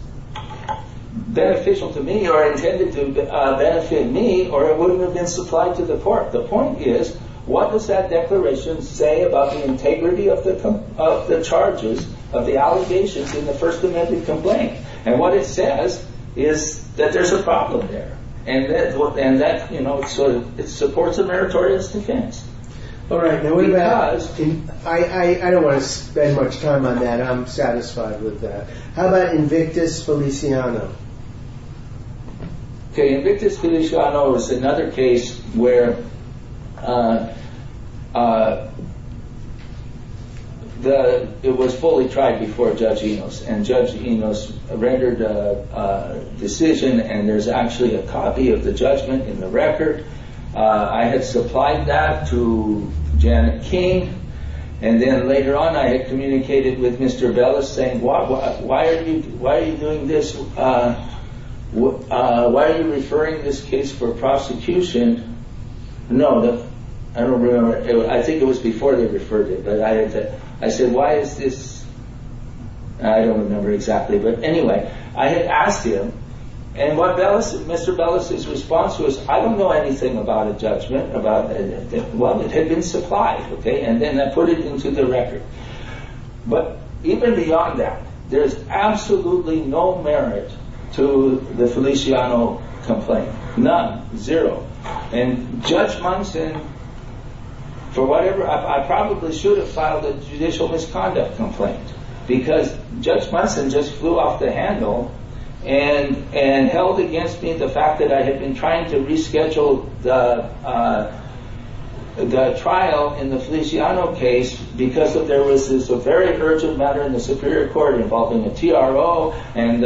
beneficial to me or intended to benefit me or it wouldn't have been supplied to the court. The point is, what does that declaration say about the integrity of the charges, of the allegations in the first amendment complaint? And what it says is that there's a problem there, and so it supports the meritorious defense. All right, now we've asked, and I don't want to spend much time on that. I'm satisfied with that. How about Invictus Feliciano? Okay, Invictus Feliciano is another case where it was fully tried before Judge Enos, and Judge Enos rendered a decision, and there's actually a copy of the judgment in the record. I had supplied that to Janet King, and then later on I had communicated with Mr. Bellis saying, why are you doing this? Why are you referring this case for prosecution? No, I don't remember. I think it was before they referred it, but I said, why is this? I don't remember exactly, but anyway, I had asked him, and Mr. Bellis' response was, I don't know anything about a judgment. Well, it had been supplied, okay, and then I put it into the record. But even beyond that, there's absolutely no merit to the Feliciano complaint. None. Zero. And Judge Munson, for whatever reason, I probably should have filed a judicial misconduct complaint, because Judge Munson just flew off the handle and held against me the fact that I had been trying to reschedule the trial in the Feliciano case because there was this very urgent matter in the Superior Court involving the TRO and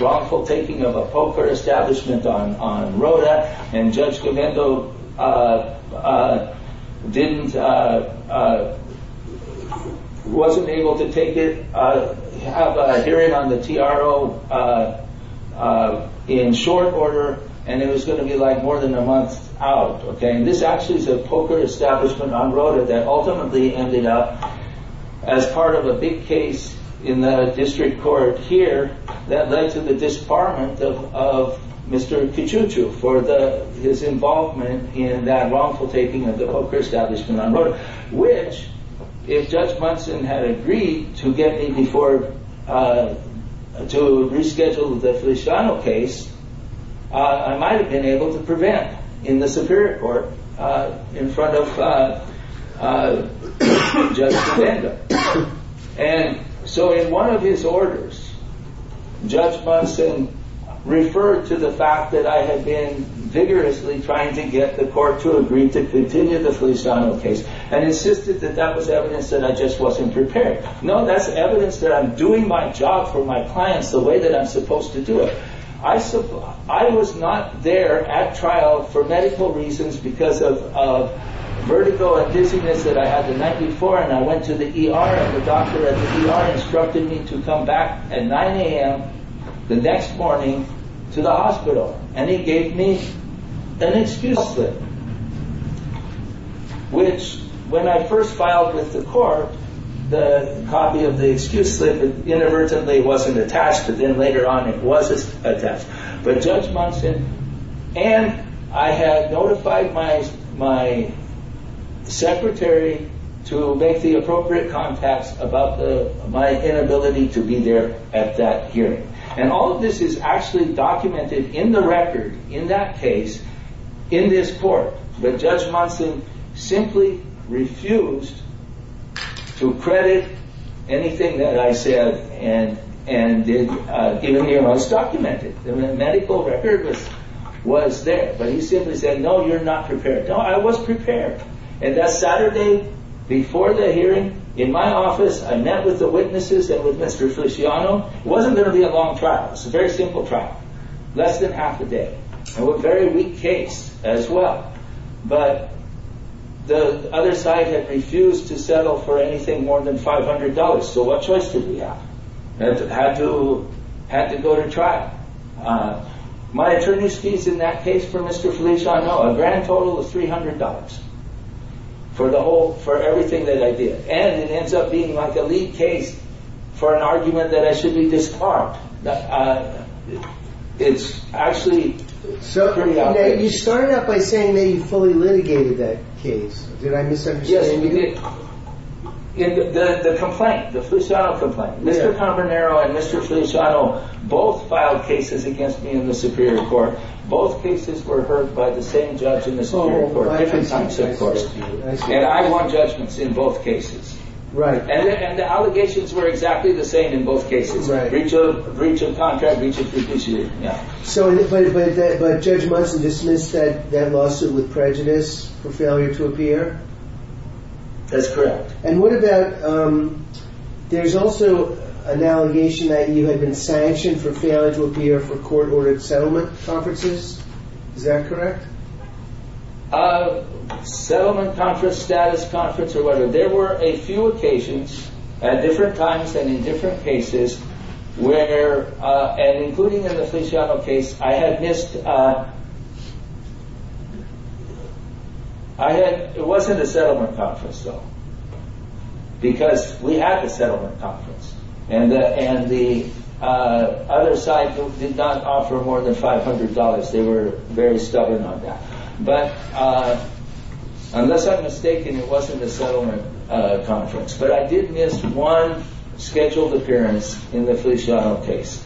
wrongful taking of a poker establishment on Rota, and Judge Clemento wasn't able to have a hearing on the TRO in short order, and it was going to be more than a month out. And this actually is a poker establishment on Rota that ultimately ended up as part of a big case in the district court here that led to the disbarment of Mr. Kichuchu for his involvement in that wrongful taking of the poker establishment on Rota, which, if Judge Munson had agreed to get me to reschedule the Feliciano case, I might have been able to prevent in the Superior Court in front of Judge Clemento. And so in one of his orders, Judge Munson referred to the fact that I had been vigorously trying to get the court to agree to continue the Feliciano case and insisted that that was evidence that I just wasn't prepared. No, that's evidence that I'm doing my job for my clients the way that I'm supposed to do it. I was not there at trial for medical reasons because of vertigo and dizziness that I had the night before, and I went to the ER, and the doctor at the ER instructed me to come back at 9 a.m. the next morning to the hospital. And he gave me an excuse slip, which, when I first filed with the court, the copy of the excuse slip inadvertently wasn't attached, and then later on it was attached. And I had notified my secretary to make the appropriate contact about my inability to be there at that hearing. And all of this is actually documented in the record, in that case, in this court. But Judge Munson simply refused to credit anything that I said, and it was documented in the medical record that was there. But he simply said, no, you're not prepared. No, I was prepared. And that Saturday before the hearing, in my office, I met with the witnesses that were Mr. Feliciano. It wasn't going to be a long trial. It was a very simple trial. Less than half a day. It was a very weak case, as well. But the other side had refused to settle for anything more than $500, so what choice did we have? Had to go to trial. My attorney's fees in that case for Mr. Feliciano, a grand total of $300 for everything that I did. And it ends up being like the lead case for an argument that I should be disbarred. It's actually so pretty obvious. You started out by saying that you fully litigated that case. Did I miss something? Yes, you did. The complaint, the Feliciano complaint. Mr. Camarnero and Mr. Feliciano both filed cases against me in the Superior Court. Both cases were heard by the same judge in the Superior Court. And I won judgments in both cases. Right. And the allegations were exactly the same in both cases. Each was a breach of contract, each was fiduciary. But Judge Monson dismissed that lawsuit with prejudice for failure to appear? That's correct. And what about, there's also an allegation that you had been sanctioned for failure to appear for court-ordered settlement conferences. Is that correct? Settlement conference, status conference, or whatever. There were a few occasions at different times and in different cases where, and including in the Feliciano case, I had missed... I had, it wasn't a settlement conference though. Because we had the settlement conference. And the other side did not offer more than $500. They were very stubborn on that. But, unless I'm mistaken, it wasn't a settlement conference. But I did miss one scheduled appearance in the Feliciano case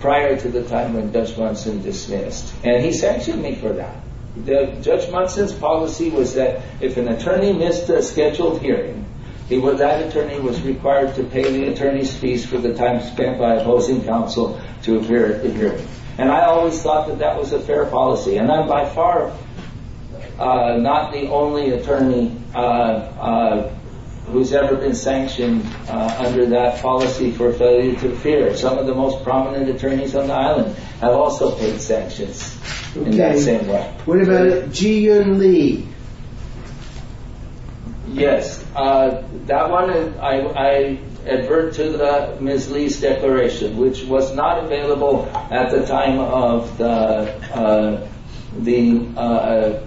prior to the time when Judge Monson dismissed. And he sanctioned me for that. Judge Monson's policy was that if an attorney missed a scheduled hearing, that attorney was required to pay the attorney's fees for the time spent by opposing counsel to appear at the hearing. And I always thought that that was a fair policy. And I'm by far not the only attorney who's ever been sanctioned under that policy for failure to appear. Some of the most prominent attorneys on the island have also been sanctioned in that same way. Okay. What about G. M. Lee? Yes. That one, I advert to Ms. Lee's declaration, which was not available at the time of the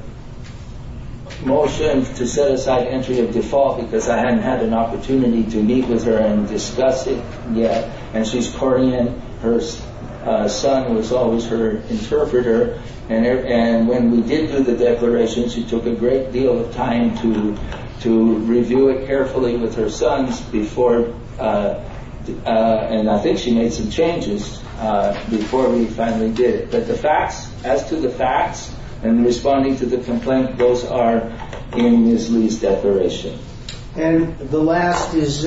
motion to set aside entry of default. Because I hadn't had an opportunity to meet with her and discuss it yet. And she's coordinated. Her son was always her interpreter. And when we did do the declaration, she took a great deal of time to review it carefully with her son. And I think she made some changes before we finally did it. But as to the facts and responding to the complaint, those are in Ms. Lee's declaration. And the last is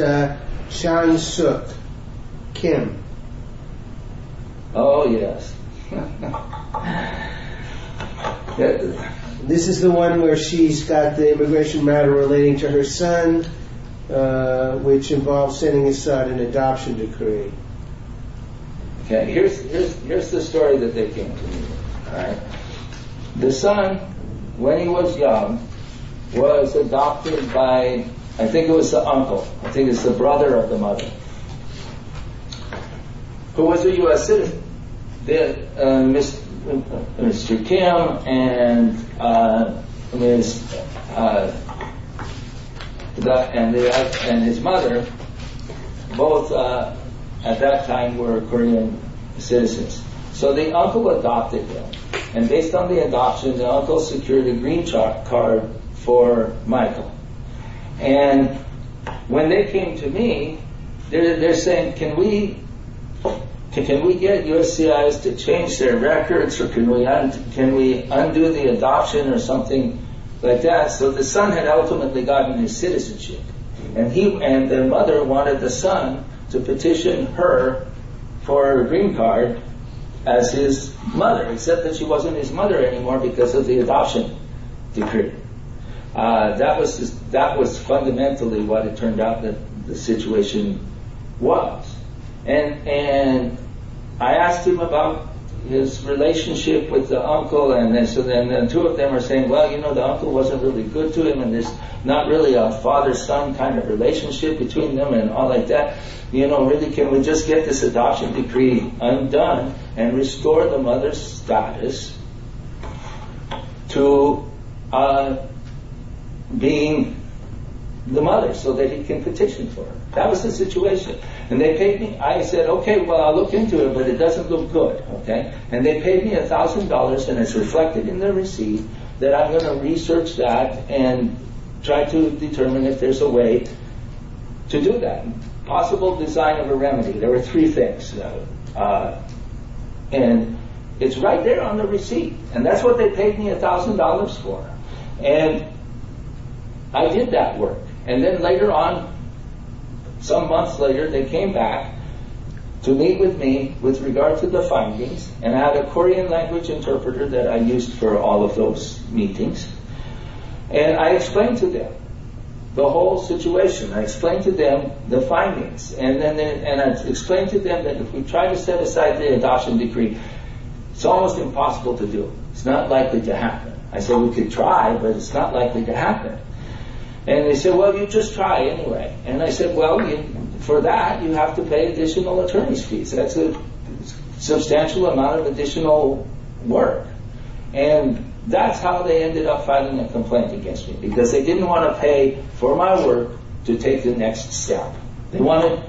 Chan Suk Kim. Oh, yes. This is the one where she's got the immigration matter relating to her son, which involves sending his son an adoption decree. Okay. Here's the story that they came to me. The son, when he was young, was adopted by, I think it was the uncle, I think it was the brother of the mother, who was a U.S. citizen. Mr. Kim and his mother, both at that time were Korean citizens. So the uncle adopted them. And based on the adoption, the uncle secured a green card for Michael. And when they came to me, they're saying, can we get USCIS to change their records? Can we undo the adoption or something like that? So the son had ultimately gotten his citizenship. And the mother wanted the son to petition her for a green card as his mother, except that she wasn't his mother anymore because of the adoption decree. That was fundamentally what it turned out that the situation was. And I asked him about his relationship with the uncle, and then two of them were saying, well, you know, the uncle wasn't really good to him, and there's not really a father-son kind of relationship between them and all like that. You know, really, can we just get this adoption decree undone and restore the mother's status to being the mother so that he can petition for her? That was the situation. And they paid me. I said, OK, well, I looked into it, but it doesn't look good. And they paid me $1,000, and it's reflected in their receipt that I'm going to research that and try to determine if there's a way to do that. Possible design of a remedy. There were three things. And it's right there on their receipt. And that's what they paid me $1,000 for. And I did that work. And then later on, some months later, they came back to meet with me with regard to the findings. And I had a Korean language interpreter that I used for all of those meetings. And I explained to them the whole situation. I explained to them the findings. And I explained to them that if we try to set aside the adoption decree, it's almost impossible to do. It's not likely to happen. And they said, well, you just try anyway. And I said, well, for that, you have to pay additional attorney's fees. That's a substantial amount of additional work. And that's how they ended up filing a complaint against me, because they didn't want to pay for my work to take the next step. They wanted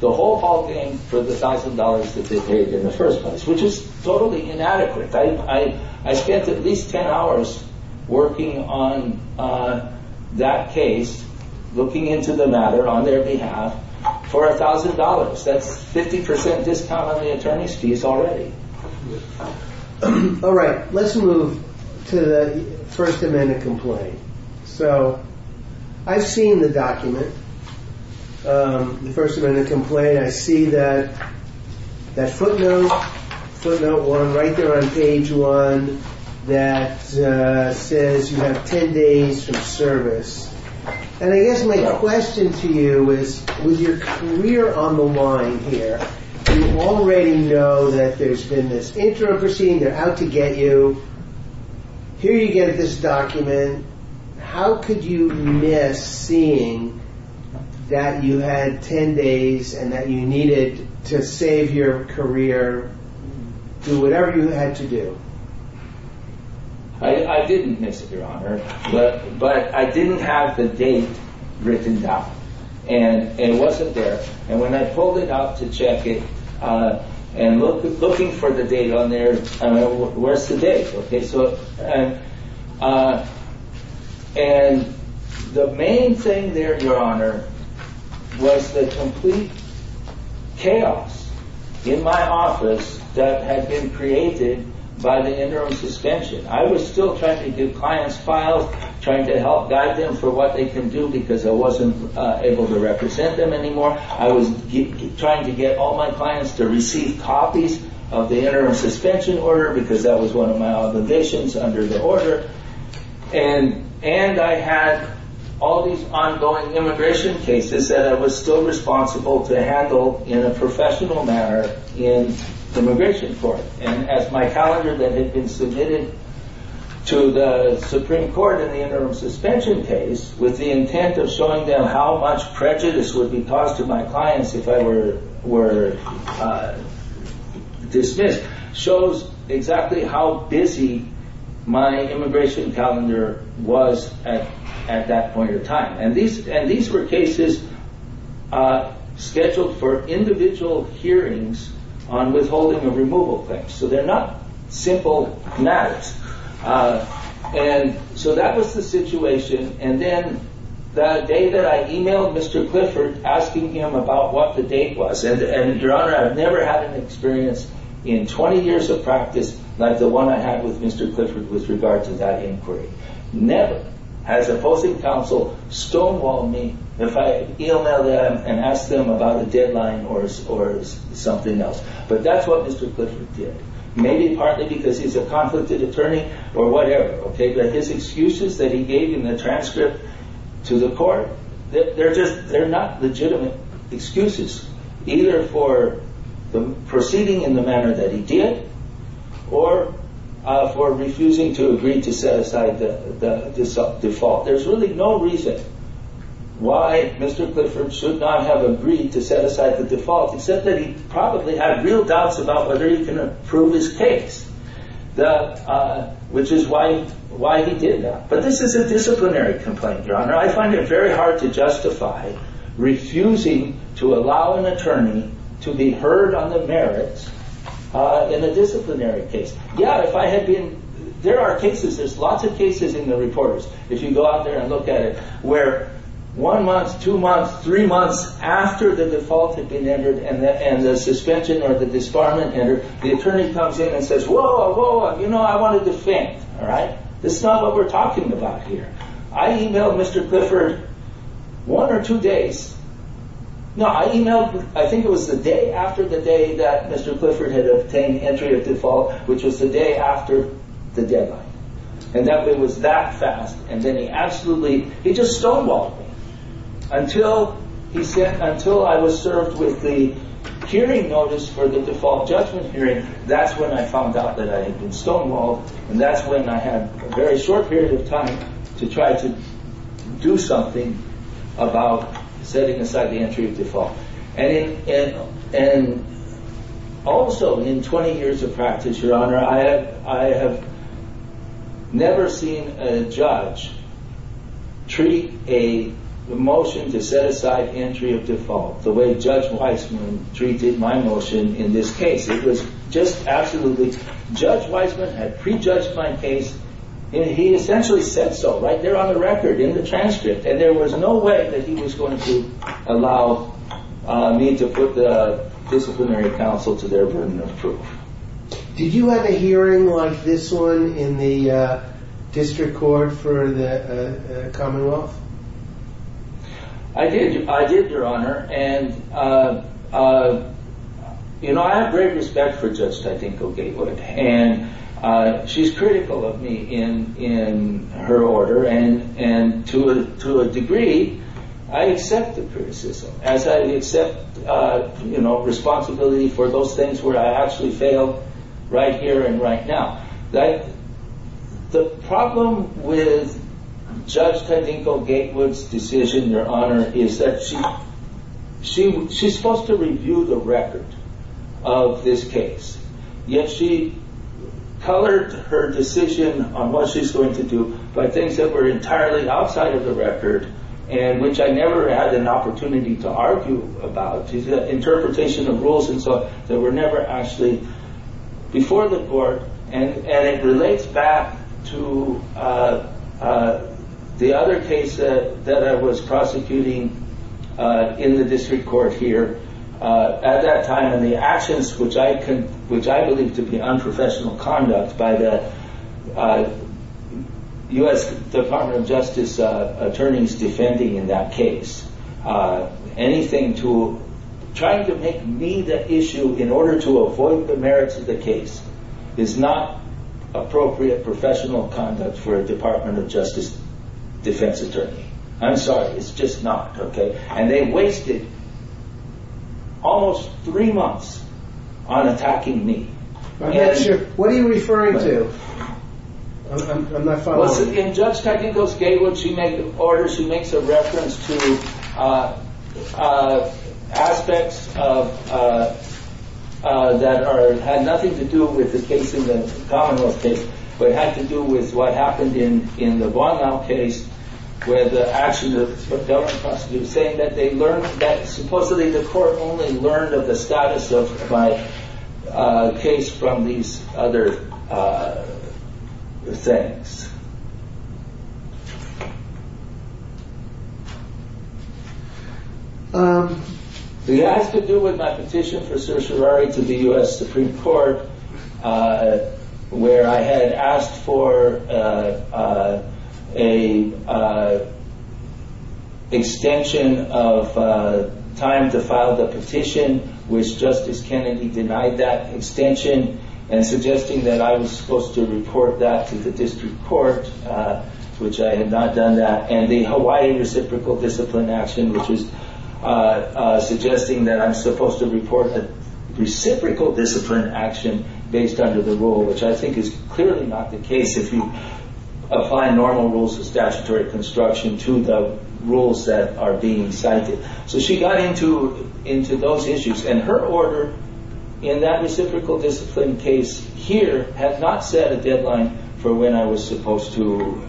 the whole ballgame for the $1,000 that they paid in the first place, which is totally inadequate. I spent at least 10 hours working on that case, looking into the matter on their behalf, for $1,000. That's 50% discount on the attorney's fees already. All right. Let's move to the first amendment complaint. So I've seen the document, the first amendment complaint. I see that footnote, footnote 1, right there on page 1, that says you have 10 days of service. And I guess my question to you is, we're on the line here. You already know that there's been this interim proceeding. They're out to get you. Here you get this document. How could you miss seeing that you had 10 days and that you needed to save your career, do whatever you had to do? I didn't miss it, Your Honor. But I didn't have the date written down. And it wasn't there. And when I pulled it up to check it, and looking for the date on there, where's the date? Okay. And the main thing there, Your Honor, was the complete chaos in my office that had been created by the interim suspension. I was still trying to get clients filed, trying to help guide them for what they can do because I wasn't able to represent them anymore. I was trying to get all my clients to receive copies of the interim suspension order because that was one of my obligations under the order. And I had all these ongoing immigration cases that I was still responsible to handle in a professional manner in the immigration court. And as my calendar that had been submitted to the Supreme Court in the interim suspension case, with the intent of showing them how much prejudice would be caused to my clients if I were dismissed, shows exactly how busy my immigration calendar was at that point in time. And these were cases scheduled for individual hearings on withholding of removal claims. So, they're not simple matters. And so, that was the situation. And then the day that I emailed Mr. Clifford asking him about what the date was, and Your Honor, I've never had an experience in 20 years of practice like the one I had with Mr. Clifford with regards to that inquiry. Never has a opposing counsel stonewalled me if I email them and ask them about the deadline or something else. But that's what Mr. Clifford did. Maybe partly because he's a conflicted attorney or whatever. But his excuses that he gave in the transfer to the court, they're not legitimate excuses. Either for proceeding in the manner that he did, or for refusing to agree to set aside the default. There's really no reason why Mr. Clifford should not have agreed to set aside the default. He said that he probably had real doubts about whether he was going to prove his case, which is why he did that. But this is a disciplinary complaint, Your Honor. I find it very hard to justify refusing to allow an attorney to be heard on the merits in a disciplinary case. Yeah, if I had been... There are cases, there's lots of cases in the reports, if you go out there and look at it, where one month, two months, three months after the default had been entered and the suspension or the disbarment entered, the attorney comes in and says, whoa, whoa, you know, I want to defend. All right? This is not what we're talking about here. I emailed Mr. Clifford one or two days. No, I emailed, I think it was the day after the day that Mr. Clifford had obtained entry of default, which was the day after the deadline. And that was that fast. And then he absolutely, he just stonewalled me. Until he said, until I was served with the hearing notice for the default judgment hearing, that's when I found out that I had been stonewalled, and that's when I had a very short period of time to try to do something about setting aside the entry of default. And also, in 20 years of practice, Your Honor, I have never seen a judge treat a motion to set aside entry of default the way Judge Weisman treated my motion in this case. It was just absolutely, Judge Weisman had prejudged my case, and he essentially said so. Right there on the record, in the transcript. And there was no way that he was going to allow me to put the disciplinary counsel to their room. Did you have a hearing on this one in the district court for the common law? I did, Your Honor. And, you know, I have great respect for Judge Tadinko-Gatewood. And she's critical of me in her order, and to a degree, I accept the criticism, as I accept responsibility for those things where I actually failed right here and right now. The problem with Judge Tadinko-Gatewood's decision, Your Honor, is that she's supposed to review the record of this case. Yet she colored her decision on what she's going to do by things that were entirely outside of the record, and which I never had an opportunity to argue about. She's got interpretation of rules and stuff that were never actually before the court. And it relates back to the other case that I was prosecuting in the district court here. At that time, the actions which I believe to be unprofessional conduct by the U.S. Department of Justice attorneys defending that case, anything to try to make me the issue in order to avoid the merits of the case, is not appropriate professional conduct for a Department of Justice defense attorney. I'm sorry, it's just not, okay? And they wasted almost three months on attacking me. What are you referring to? In Judge Tadinko-Gatewood's case, she makes a reference to aspects that had nothing to do with the case in the Commonwealth case, but had to do with what happened in the Long Island case, where the actions of the federal prosecutor saying that they learned, that supposedly the court only learned of the status of my case from these other things. It had to do with my petition for certiorari to the U.S. Supreme Court, where I had asked for an extension of time to file the petition, which Justice Kennedy denied that extension, and suggesting that I was supposed to report that to the district court. Which I had not done that. And a Hawaii reciprocal discipline action, which was suggesting that I'm supposed to report a reciprocal discipline action based on the rule, which I think is clearly not the case if you apply normal rules of statutory construction to the rules that are being cited. So she got into those issues. And her order in that reciprocal discipline case here, had not set a deadline for when I was supposed to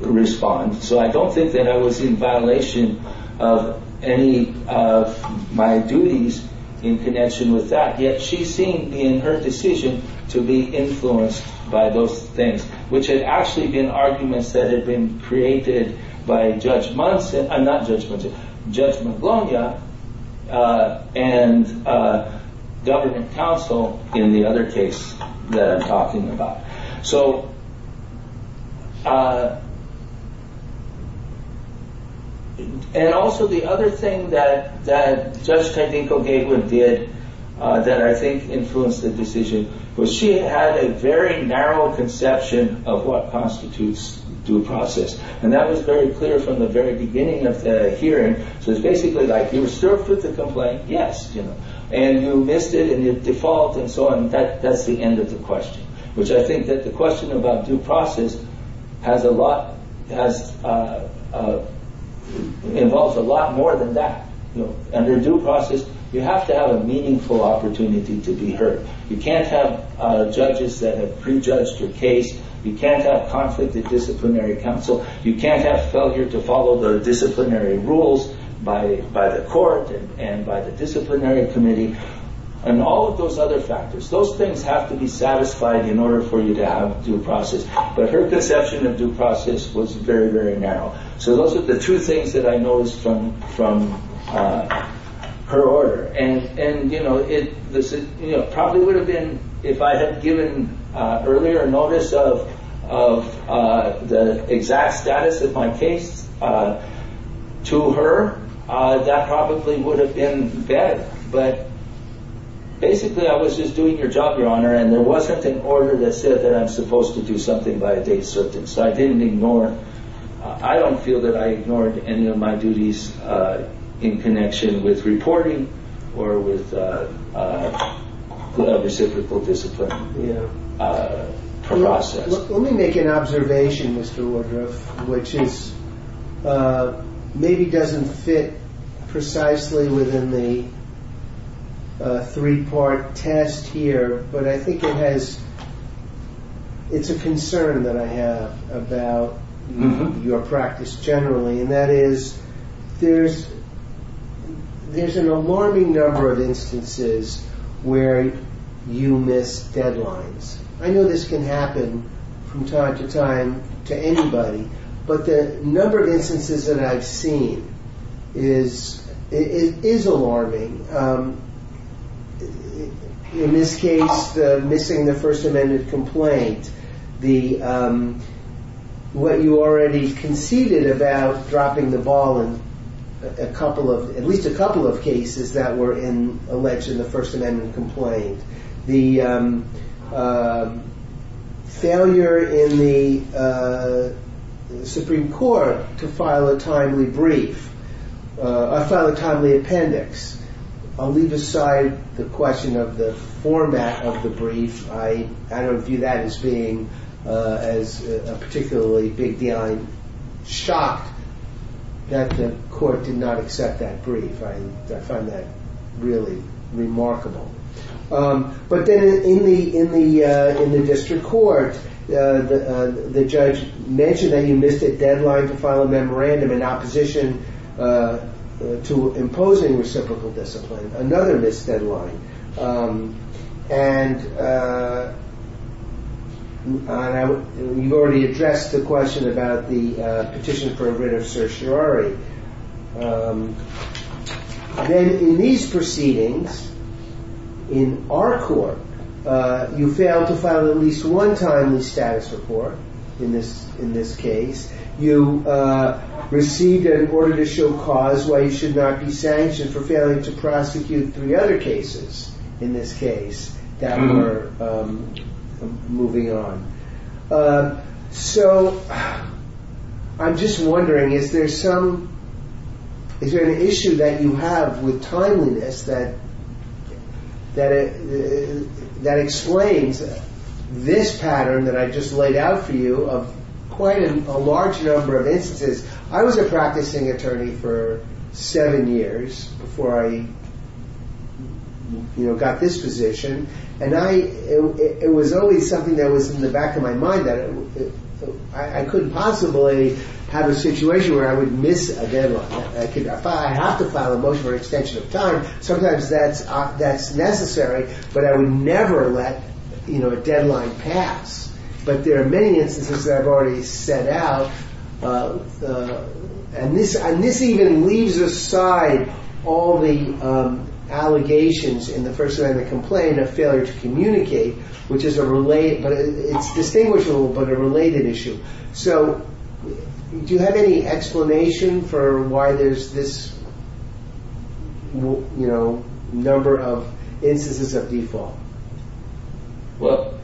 respond. So I don't think that I was in violation of any of my duties in connection with that. Yet she seemed, in her decision, to be influenced by those things. Which had actually been arguments that had been created by Judge Monson, not Judge Monson, but Judge McGlumya, and government counsel in the other case that I'm talking about. And also the other thing that Judge Tedinko-Gatewood did, that I think influenced the decision, was she had a very narrow conception of what constitutes due process. And that was very clear from the very beginning of the hearing. So it's basically like, you're served with the complaint, yes. And you missed it, and it defaults, and so on. That's the end of the question. Which I think that the question about due process has a lot, involves a lot more than that. Under due process, you have to have a meaningful opportunity to be heard. You can't have judges that have prejudged your case. You can't have conflict of disciplinary counsel. You can't have soldiers that follow the disciplinary rules by the court and by the disciplinary committee. And all of those other factors. Those things have to be satisfied in order for you to have due process. But her conception of due process was very, very narrow. So those are the two things that I noticed from her order. And, you know, it probably would have been, if I had given earlier notice of the exact status of my case to her, that probably would have been better. But basically I was just doing your job, Your Honor, and there wasn't an order that said that I'm supposed to do something by a date certain. So I didn't ignore, I don't feel that I ignored any of my duties in connection with reporting or with other typical disciplinary process. Let me make an observation, Mr. Woodruff, which maybe doesn't fit precisely within the three-part test here, but I think it's a concern that I have about your practice generally, and that is there's an alarming number of instances where you miss deadlines. I know this can happen from time to time to anybody, but the number of instances that I've seen is alarming. In this case, missing the First Amendment complaint. What you already conceded about dropping the ball in a couple of, at least a couple of cases that were in election, the First Amendment complaint. The failure in the Supreme Court to file a timely brief, or file a timely appendix. I'll leave aside the question of the format of the brief. I don't view that as being particularly big beyond shock that the court did not accept that brief. I find that really remarkable. But then in the district court, the judge mentioned that he missed a deadline to file a memorandum in opposition to imposing reciprocal discipline. Another missed deadline. And we've already addressed the question about the petition for a writ of certiorari. Then in these proceedings, in our court, you fail to file at least one timely status report in this case. You receive an order to show cause why you should not be sanctioned for failing to prosecute three other cases in this case that were moving on. So, I'm just wondering if there's some, is there an issue that you have with timeliness that explains this pattern that I just laid out for you of quite a large number of instances. I was a practicing attorney for seven years before I got this position. And it was always something that was in the back of my mind that I couldn't possibly have a situation where I would miss a deadline. I have to file a motion for extension of time. Sometimes that's necessary. But I would never let a deadline pass. But there are many instances that I've already set out. And this even leaves aside all the allegations in the first line of the complaint of failure to communicate, which is a related, it's distinguishable, but a related issue. So, do you have any explanation for why there's this, you know, number of instances of default? Well,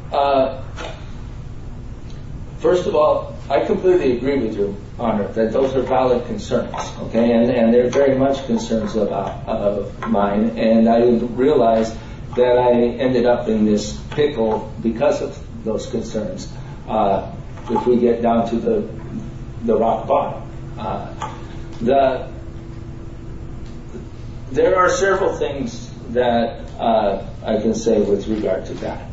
first of all, I completely agree with you, that those are valid concerns. And they're very much concerns of mine. And I realize that I ended up in this pickle because of those concerns, if we get down to the rock bottom. There are several things that I can say with regard to that.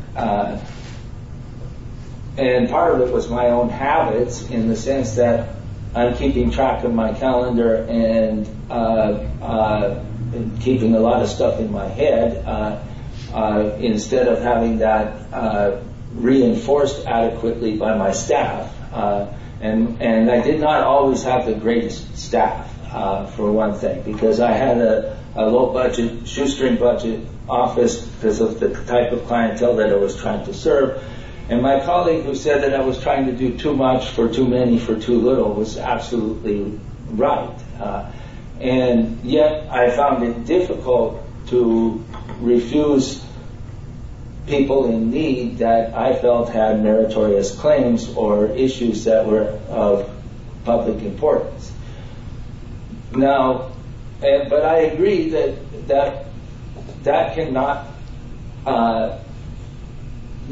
And part of it was my own habits, in the sense that I'm keeping track of my calendar and keeping a lot of stuff in my head instead of having that reinforced adequately by my staff. And I did not always have the greatest staff, for one thing, because I had a low-budget, shoestring-budget office because of the type of clientele that I was trying to serve. And my colleague who said that I was trying to do too much for too many for too little was absolutely right. And, yes, I found it difficult to refuse people in need that I felt had meritorious claims or issues that were of public importance. But I agree that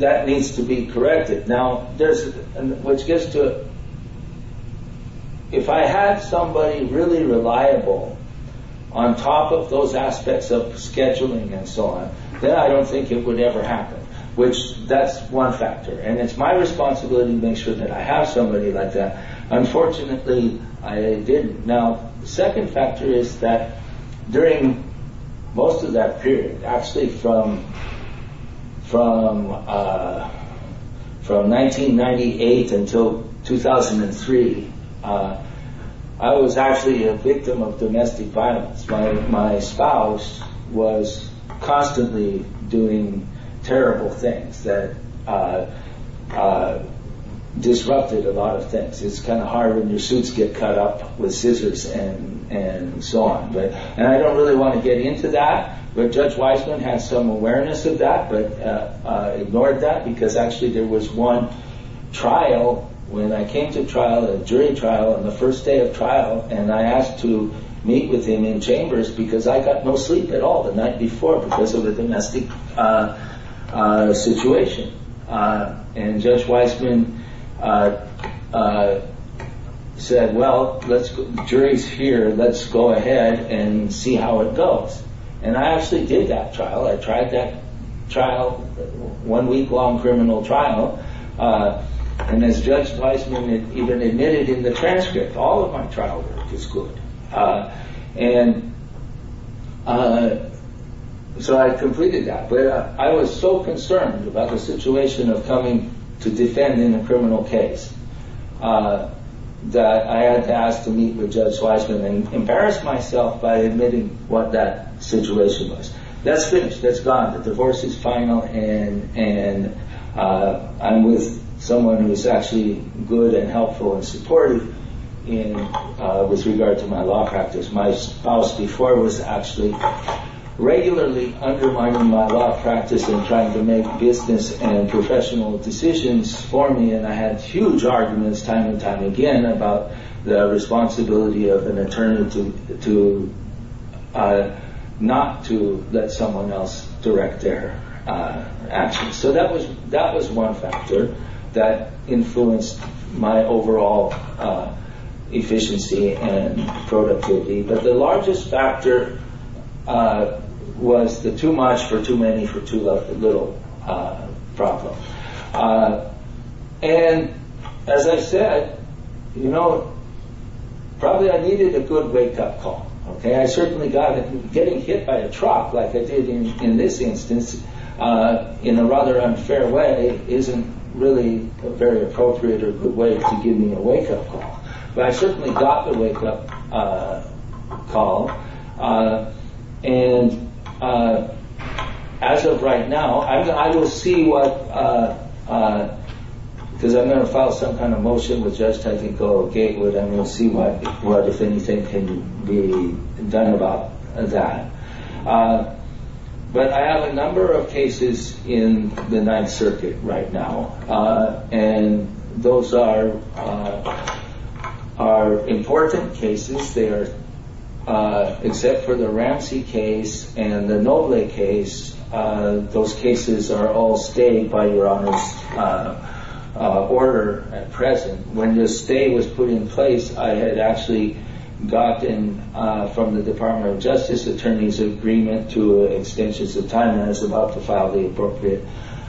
that needs to be corrected. If I had somebody really reliable on top of those aspects of scheduling and so on, then I don't think it would ever happen, which that's one factor. And it's my responsibility to make sure that I have somebody like that. Unfortunately, I didn't. Now, the second factor is that during most of that period, actually from 1998 until 2003, I was actually a victim of domestic violence. My spouse was constantly doing terrible things that disrupted a lot of things. It's kind of hard when your suits get cut up with scissors and so on. And I don't really want to get into that, but Judge Wiseman had some awareness of that but ignored that because actually there was one trial, when I came to trial, a jury trial on the first day of trial, and I asked to meet with him in chambers because I got no sleep at all the night before because of the domestic situation. And Judge Wiseman said, well, the jury's here. Let's go ahead and see how it goes. And I actually did that trial. I tried that trial, one week-long criminal trial. And as Judge Wiseman even admitted in the transcript, all of my trial work was good. And so I completed that. But I was so concerned about the situation of coming to defend in a criminal case that I had to ask to meet with Judge Wiseman and embarrass myself by admitting what that situation was. That's finished. That's gone. And I'm with someone who's actually good and helpful and supportive with regard to my law practice. My spouse before was actually regularly undermining my law practice and trying to make business and professional decisions for me. And I had huge arguments time and time again about the responsibility of an attorney not to let someone else direct their actions. So that was one factor that influenced my overall efficiency and productivity. But the largest factor was the too much for too many for too little problem. And as I said, you know, probably I needed a good wake-up call. I certainly got it. Getting hit by a truck like I did in this instance in a rather unfair way isn't really a very appropriate or good way to give me a wake-up call. But I certainly got the wake-up call. And as of right now, I will see what— because I'm going to file some kind of motion with Judge Technical Gatewood. I'm going to see what, if anything, can be done about that. But I have a number of cases in the Ninth Circuit right now. And those are important cases. Except for the Ramsey case and the Noble case, those cases are all staying by Your Honor's order at present. When the stay was put in place, I had actually gotten from the Department of Justice the Attorney's Agreement to extensions of time and I was about to file the appropriate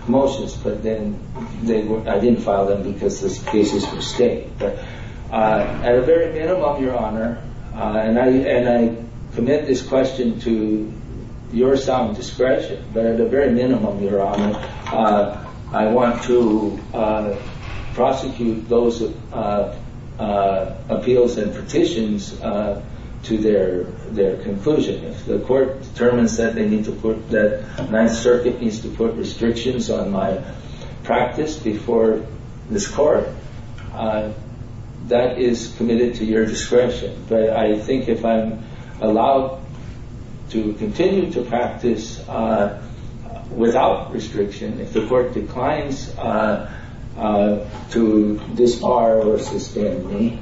motions. But then I didn't file them because the cases were staying. At the very minimum, Your Honor, and I commit this question to your sound discretion, but at the very minimum, Your Honor, I want to prosecute those appeals and petitions to their conclusion. If the court determines that the Ninth Circuit needs to put restrictions on my practice before this court, that is committed to your discretion. But I think if I'm allowed to continue to practice without restriction, if the court declines to disbar or suspend me,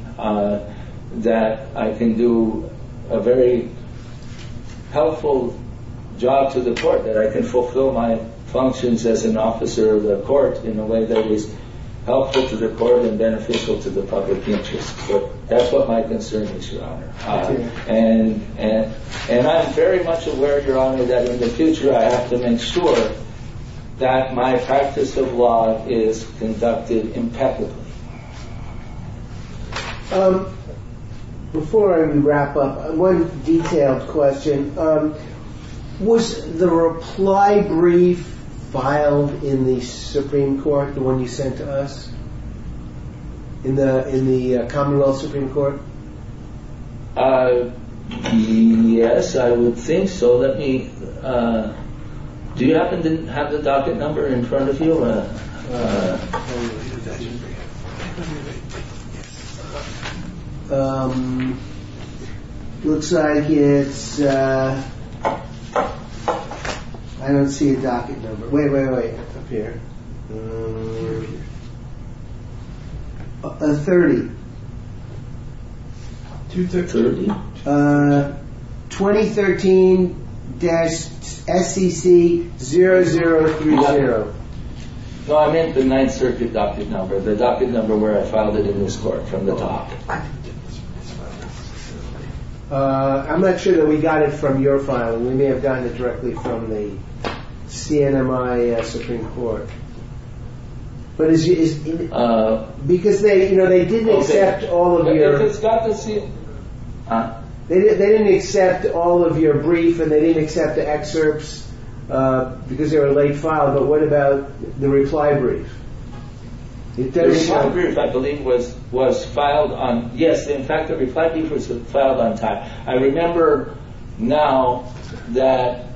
that I can do a very helpful job to the court, that I can fulfill my functions as an officer of the court in a way that is helpful to the court and beneficial to the public interest. That's what my concern is, Your Honor. And I'm very much aware, Your Honor, that in the future I have to ensure that my practice of law is conducted impeccably. Before I wrap up, one detailed question. Was the reply brief filed in the Supreme Court, the one you sent to us, in the Commonwealth Supreme Court? Yes, I would think so. Do you happen to have the docket number in front of you? I don't have it. Looks like it's... I don't see a docket number. Wait, wait, wait. 30. 2013-SBC-0030. So I meant the 9th Circuit docket number, the docket number where I filed it in this court, from the top. I'm not sure that we got it from your file. We may have gotten it directly from the CNMI Supreme Court. Because they didn't accept all of your... They didn't accept all of your brief, and they didn't accept the excerpts because they were late filed. But what about the reply brief? The reply brief, I believe, was filed on... Yes, in fact, the reply brief was filed on time. I remember now that...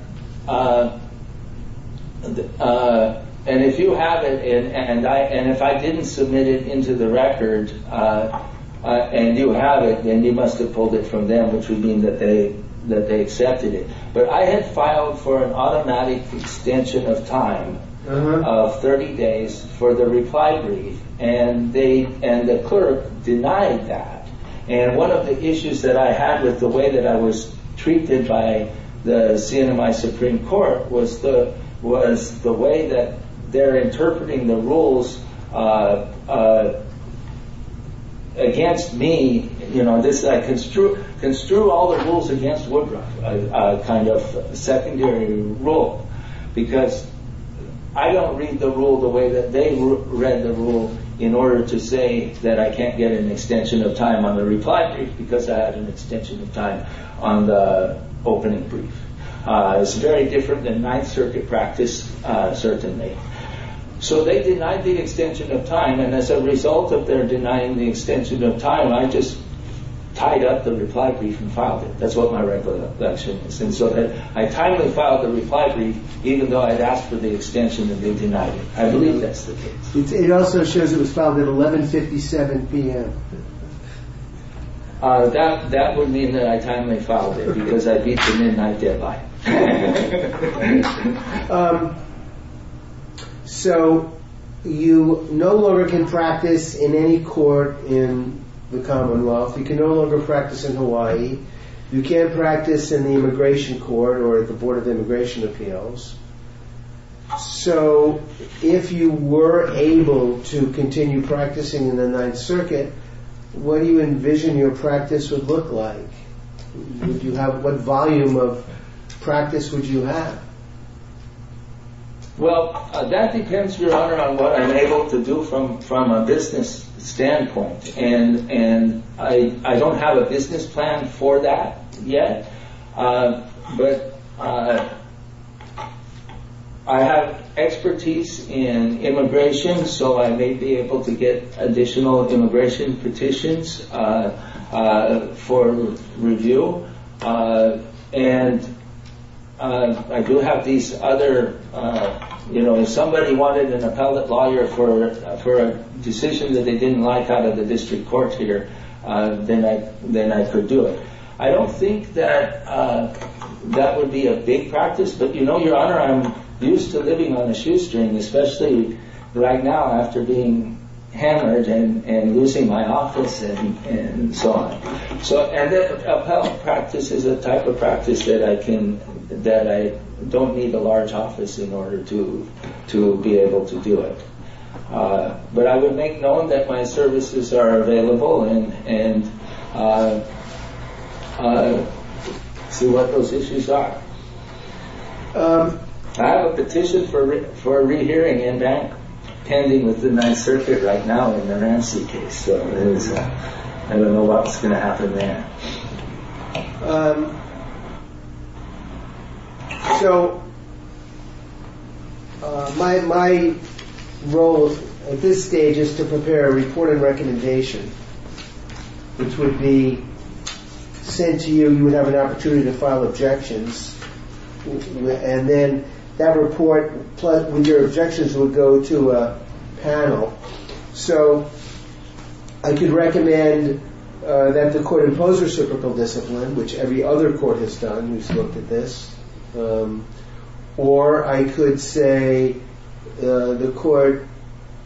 And if you have it, and if I didn't submit it into the records, and you have it, then you must have pulled it from them, which would mean that they accepted it. But I had filed for an automatic extension of time of 30 days for the reply brief, and the clerk denied that. And one of the issues that I had with the way that I was treated by the CNMI Supreme Court was the way that they're interpreting the rules against me. Construe all the rules against Woodruff, a kind of secondary rule, because I don't read the rule the way that they read the rule in order to say that I can't get an extension of time on the reply brief because I have an extension of time on the opening brief. It's very different than Ninth Circuit practice, certainly. So they denied the extension of time, and as a result of their denying the extension of time, I just tied up the reply brief and filed it. That's what my record of that sentence is. And so I finally filed the reply brief, even though I'd asked for the extension, and they denied it. I believe that's the case. It also shows it was filed at 11.57 p.m. That would mean that I finally filed it, because I'd beaten in my dead body. So you no longer can practice in any court in the commonwealth. You can no longer practice in Hawaii. You can't practice in the immigration court or at the Board of Immigration Appeals. So if you were able to continue practicing in the Ninth Circuit, what do you envision your practice would look like? What volume of practice would you have? Well, that depends, Your Honor, on what I'm able to do from a business standpoint. And I don't have a business plan for that yet. But I have expertise in immigration, so I may be able to get additional immigration petitions for review. And I do have these other... If somebody wanted an appellate lawyer for a decision that they didn't like out of the district court here, then I could do it. I don't think that that would be a big practice, but you know, Your Honor, I'm used to living on a shoestring, especially right now after being hammered and losing my office and so on. So an appellate practice is a type of practice that I don't need a large office in order to be able to do it. But I would make known that my services are available and do what those issues are. I have a petition for a re-hearing and I'm standing within that circuit right now in an unanswered case, so I don't know what's going to happen then. So my role at this stage is to prepare a report of recommendation which would be sent to you. You would have an opportunity to file objections. And then that report, with your objections, would go to a panel. So I could recommend that the court impose reciprocal discipline, which every other court has done. You've looked at this. Or I could say the court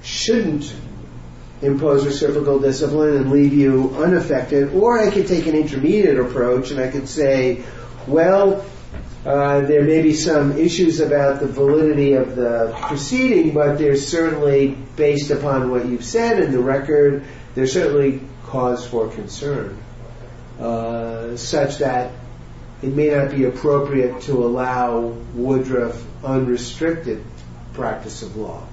shouldn't impose reciprocal discipline and leave you unaffected. Or I could take an intermediate approach and I could say, well, there may be some issues about the validity of the proceeding, but there's certainly, based upon what you've said in the record, there's certainly cause for concern such that it may not be appropriate to allow Woodruff unrestricted practice of law.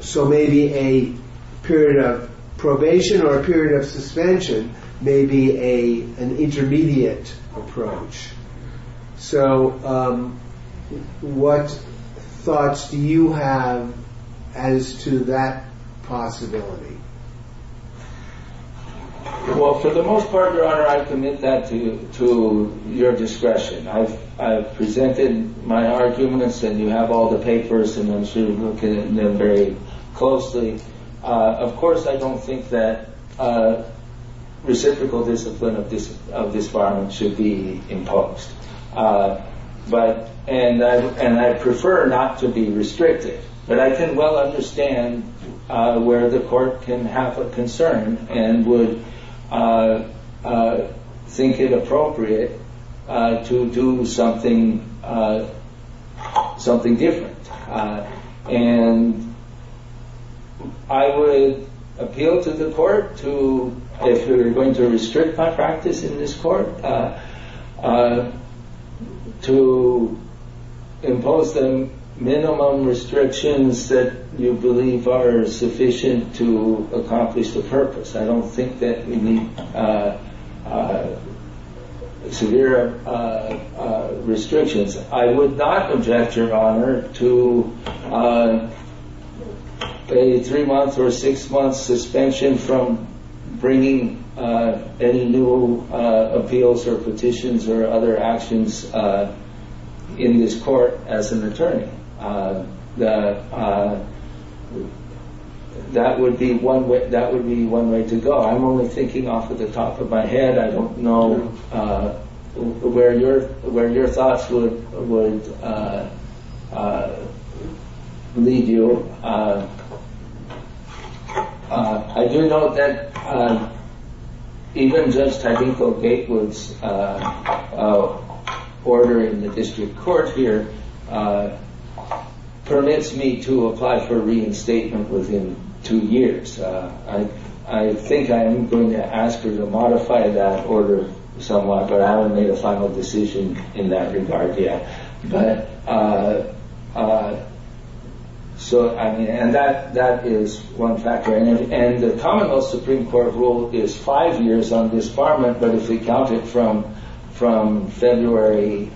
So maybe a period of probation or a period of suspension may be an intermediate approach. So what thoughts do you have as to that possibility? Well, for the most part, Your Honor, I commit that to your discretion. I've presented my arguments and you have all the papers and I'm sure you look at them very closely. Of course, I don't think that reciprocal discipline of this bar should be imposed. And I prefer not to be restricted, but I can well understand where the court can have a concern and would think it appropriate to do something different. And I would appeal to the court if we were going to restrict my practice in this court to impose the minimum restrictions that you believe are sufficient to accomplish the purpose. I don't think that we need severe restrictions. I would not object, Your Honor, to a three-month or a six-month suspension from bringing any new appeals or petitions or other actions in this court as an attorney. That would be one way to go. I'm only thinking off the top of my head. I don't know where your thoughts would lead you. I do know that even Judge Taniko Gatewood's order in the district court here permits me to apply for reinstatement within two years. I think I'm going to ask her to modify that order somewhat, but I haven't made a final decision in that regard yet. And that is one factor. And the commonwealth Supreme Court rule is five years on disbarment, but if we count it from February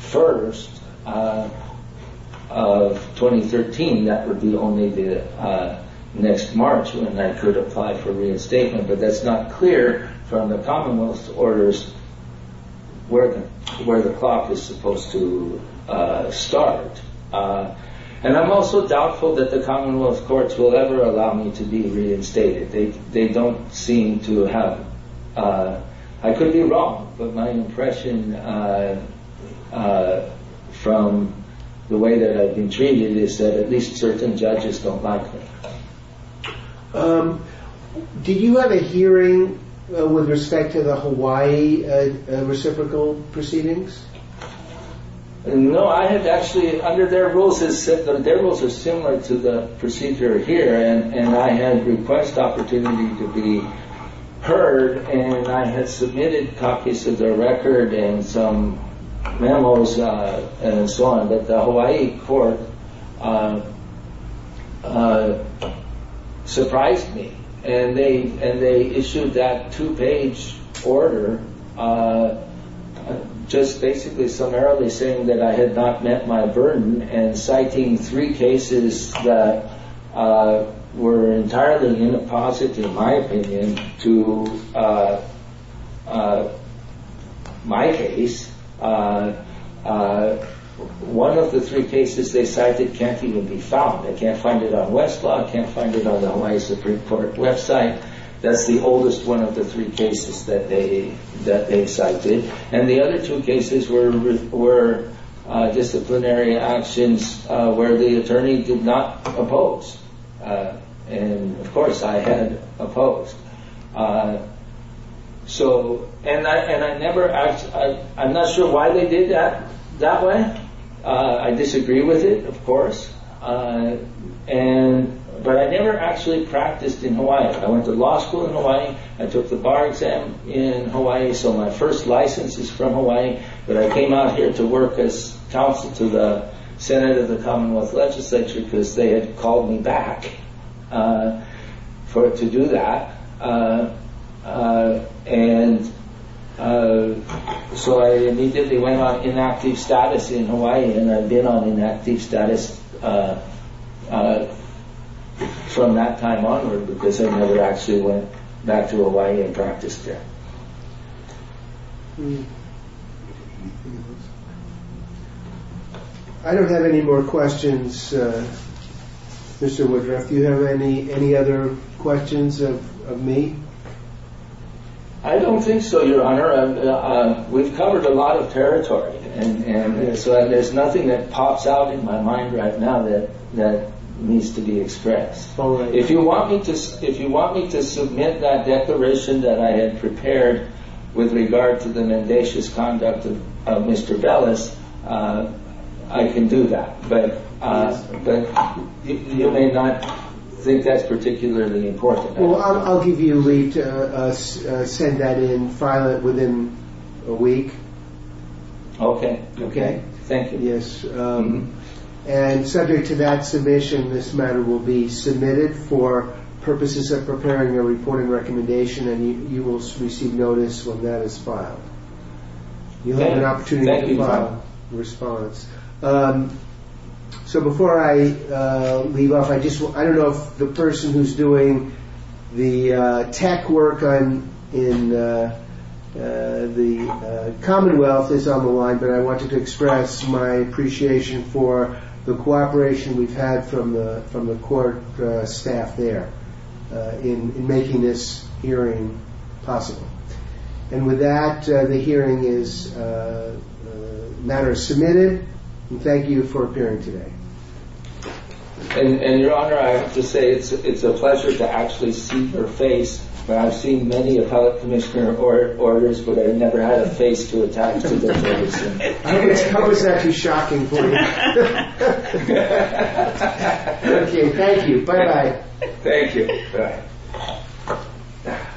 1st of 2013, that would be only next March when I could apply for reinstatement. But that's not clear from the commonwealth's orders where the clock is supposed to start. And I'm also doubtful that the commonwealth courts will ever allow me to be reinstated. They don't seem to have... I could be wrong, but my impression from the way that I've been treated is that at least certain judges don't like me. Did you have a hearing with respect to the Hawaii reciprocal proceedings? No, I had actually... Under their rules, it was similar to the procedure here, and I had the best opportunity to be heard, and I had submitted copies of their record and some memos and so on, but the Hawaii court surprised me, and they issued that two-page order just basically summarily saying that I had not met my burden and citing three cases that were entirely in a positive, in my opinion, to my case. One of the three cases they cited can't even be found. They can't find it on Westlaw, can't find it on the Hawaii Supreme Court website. That's the oldest one of the three cases that they've cited. And the other two cases were disciplinary actions where the attorney did not oppose. And, of course, I had opposed. So, and I never... I'm not sure why they did that one. I disagree with it, of course, but I never actually practiced in Hawaii. I went to law school in Hawaii. I took the bar exam in Hawaii, so my first license is from Hawaii, but I came out here to work as counsel to the Senate of the Commonwealth Legislature because they had called me back for it to do that. And so I immediately went on inactive status in Hawaii and I did on inactive status from that time onward because I never actually went back to Hawaii and practiced there. I don't have any more questions, Mr. Woodruff. Do you have any other questions of me? I don't think so, Your Honor. We've covered a lot of territory and so there's nothing that pops out in my mind right now that needs to be expressed. If you want me to submit that declaration that I had prepared with regard to the nefarious conduct of Mr. Dulles, I can do that. But you may not think that's particularly important. Well, I'll give you a week to send that in, file it within a week. Okay, okay. Thank you. Yes. And subject to that submission, this matter will be submitted for purposes of preparing a reporting recommendation and you will receive notice when that is filed. You have an opportunity to respond. So before I leave off, I don't know if the person who's doing the tech work in the Commonwealth is on the line, but I wanted to express my appreciation for the cooperation we've had from the court staff there in making this hearing possible. And with that, the hearing is matter submitted and thank you for appearing today. And Your Honor, I have to say it's a pleasure to actually see her face. I've seen many appellate commissioner orders, but I've never had a face to attack me before. I hope it's not too shocking for you. Okay, thank you. Bye-bye. Thank you.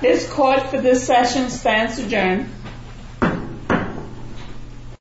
This court for this session stands adjourned.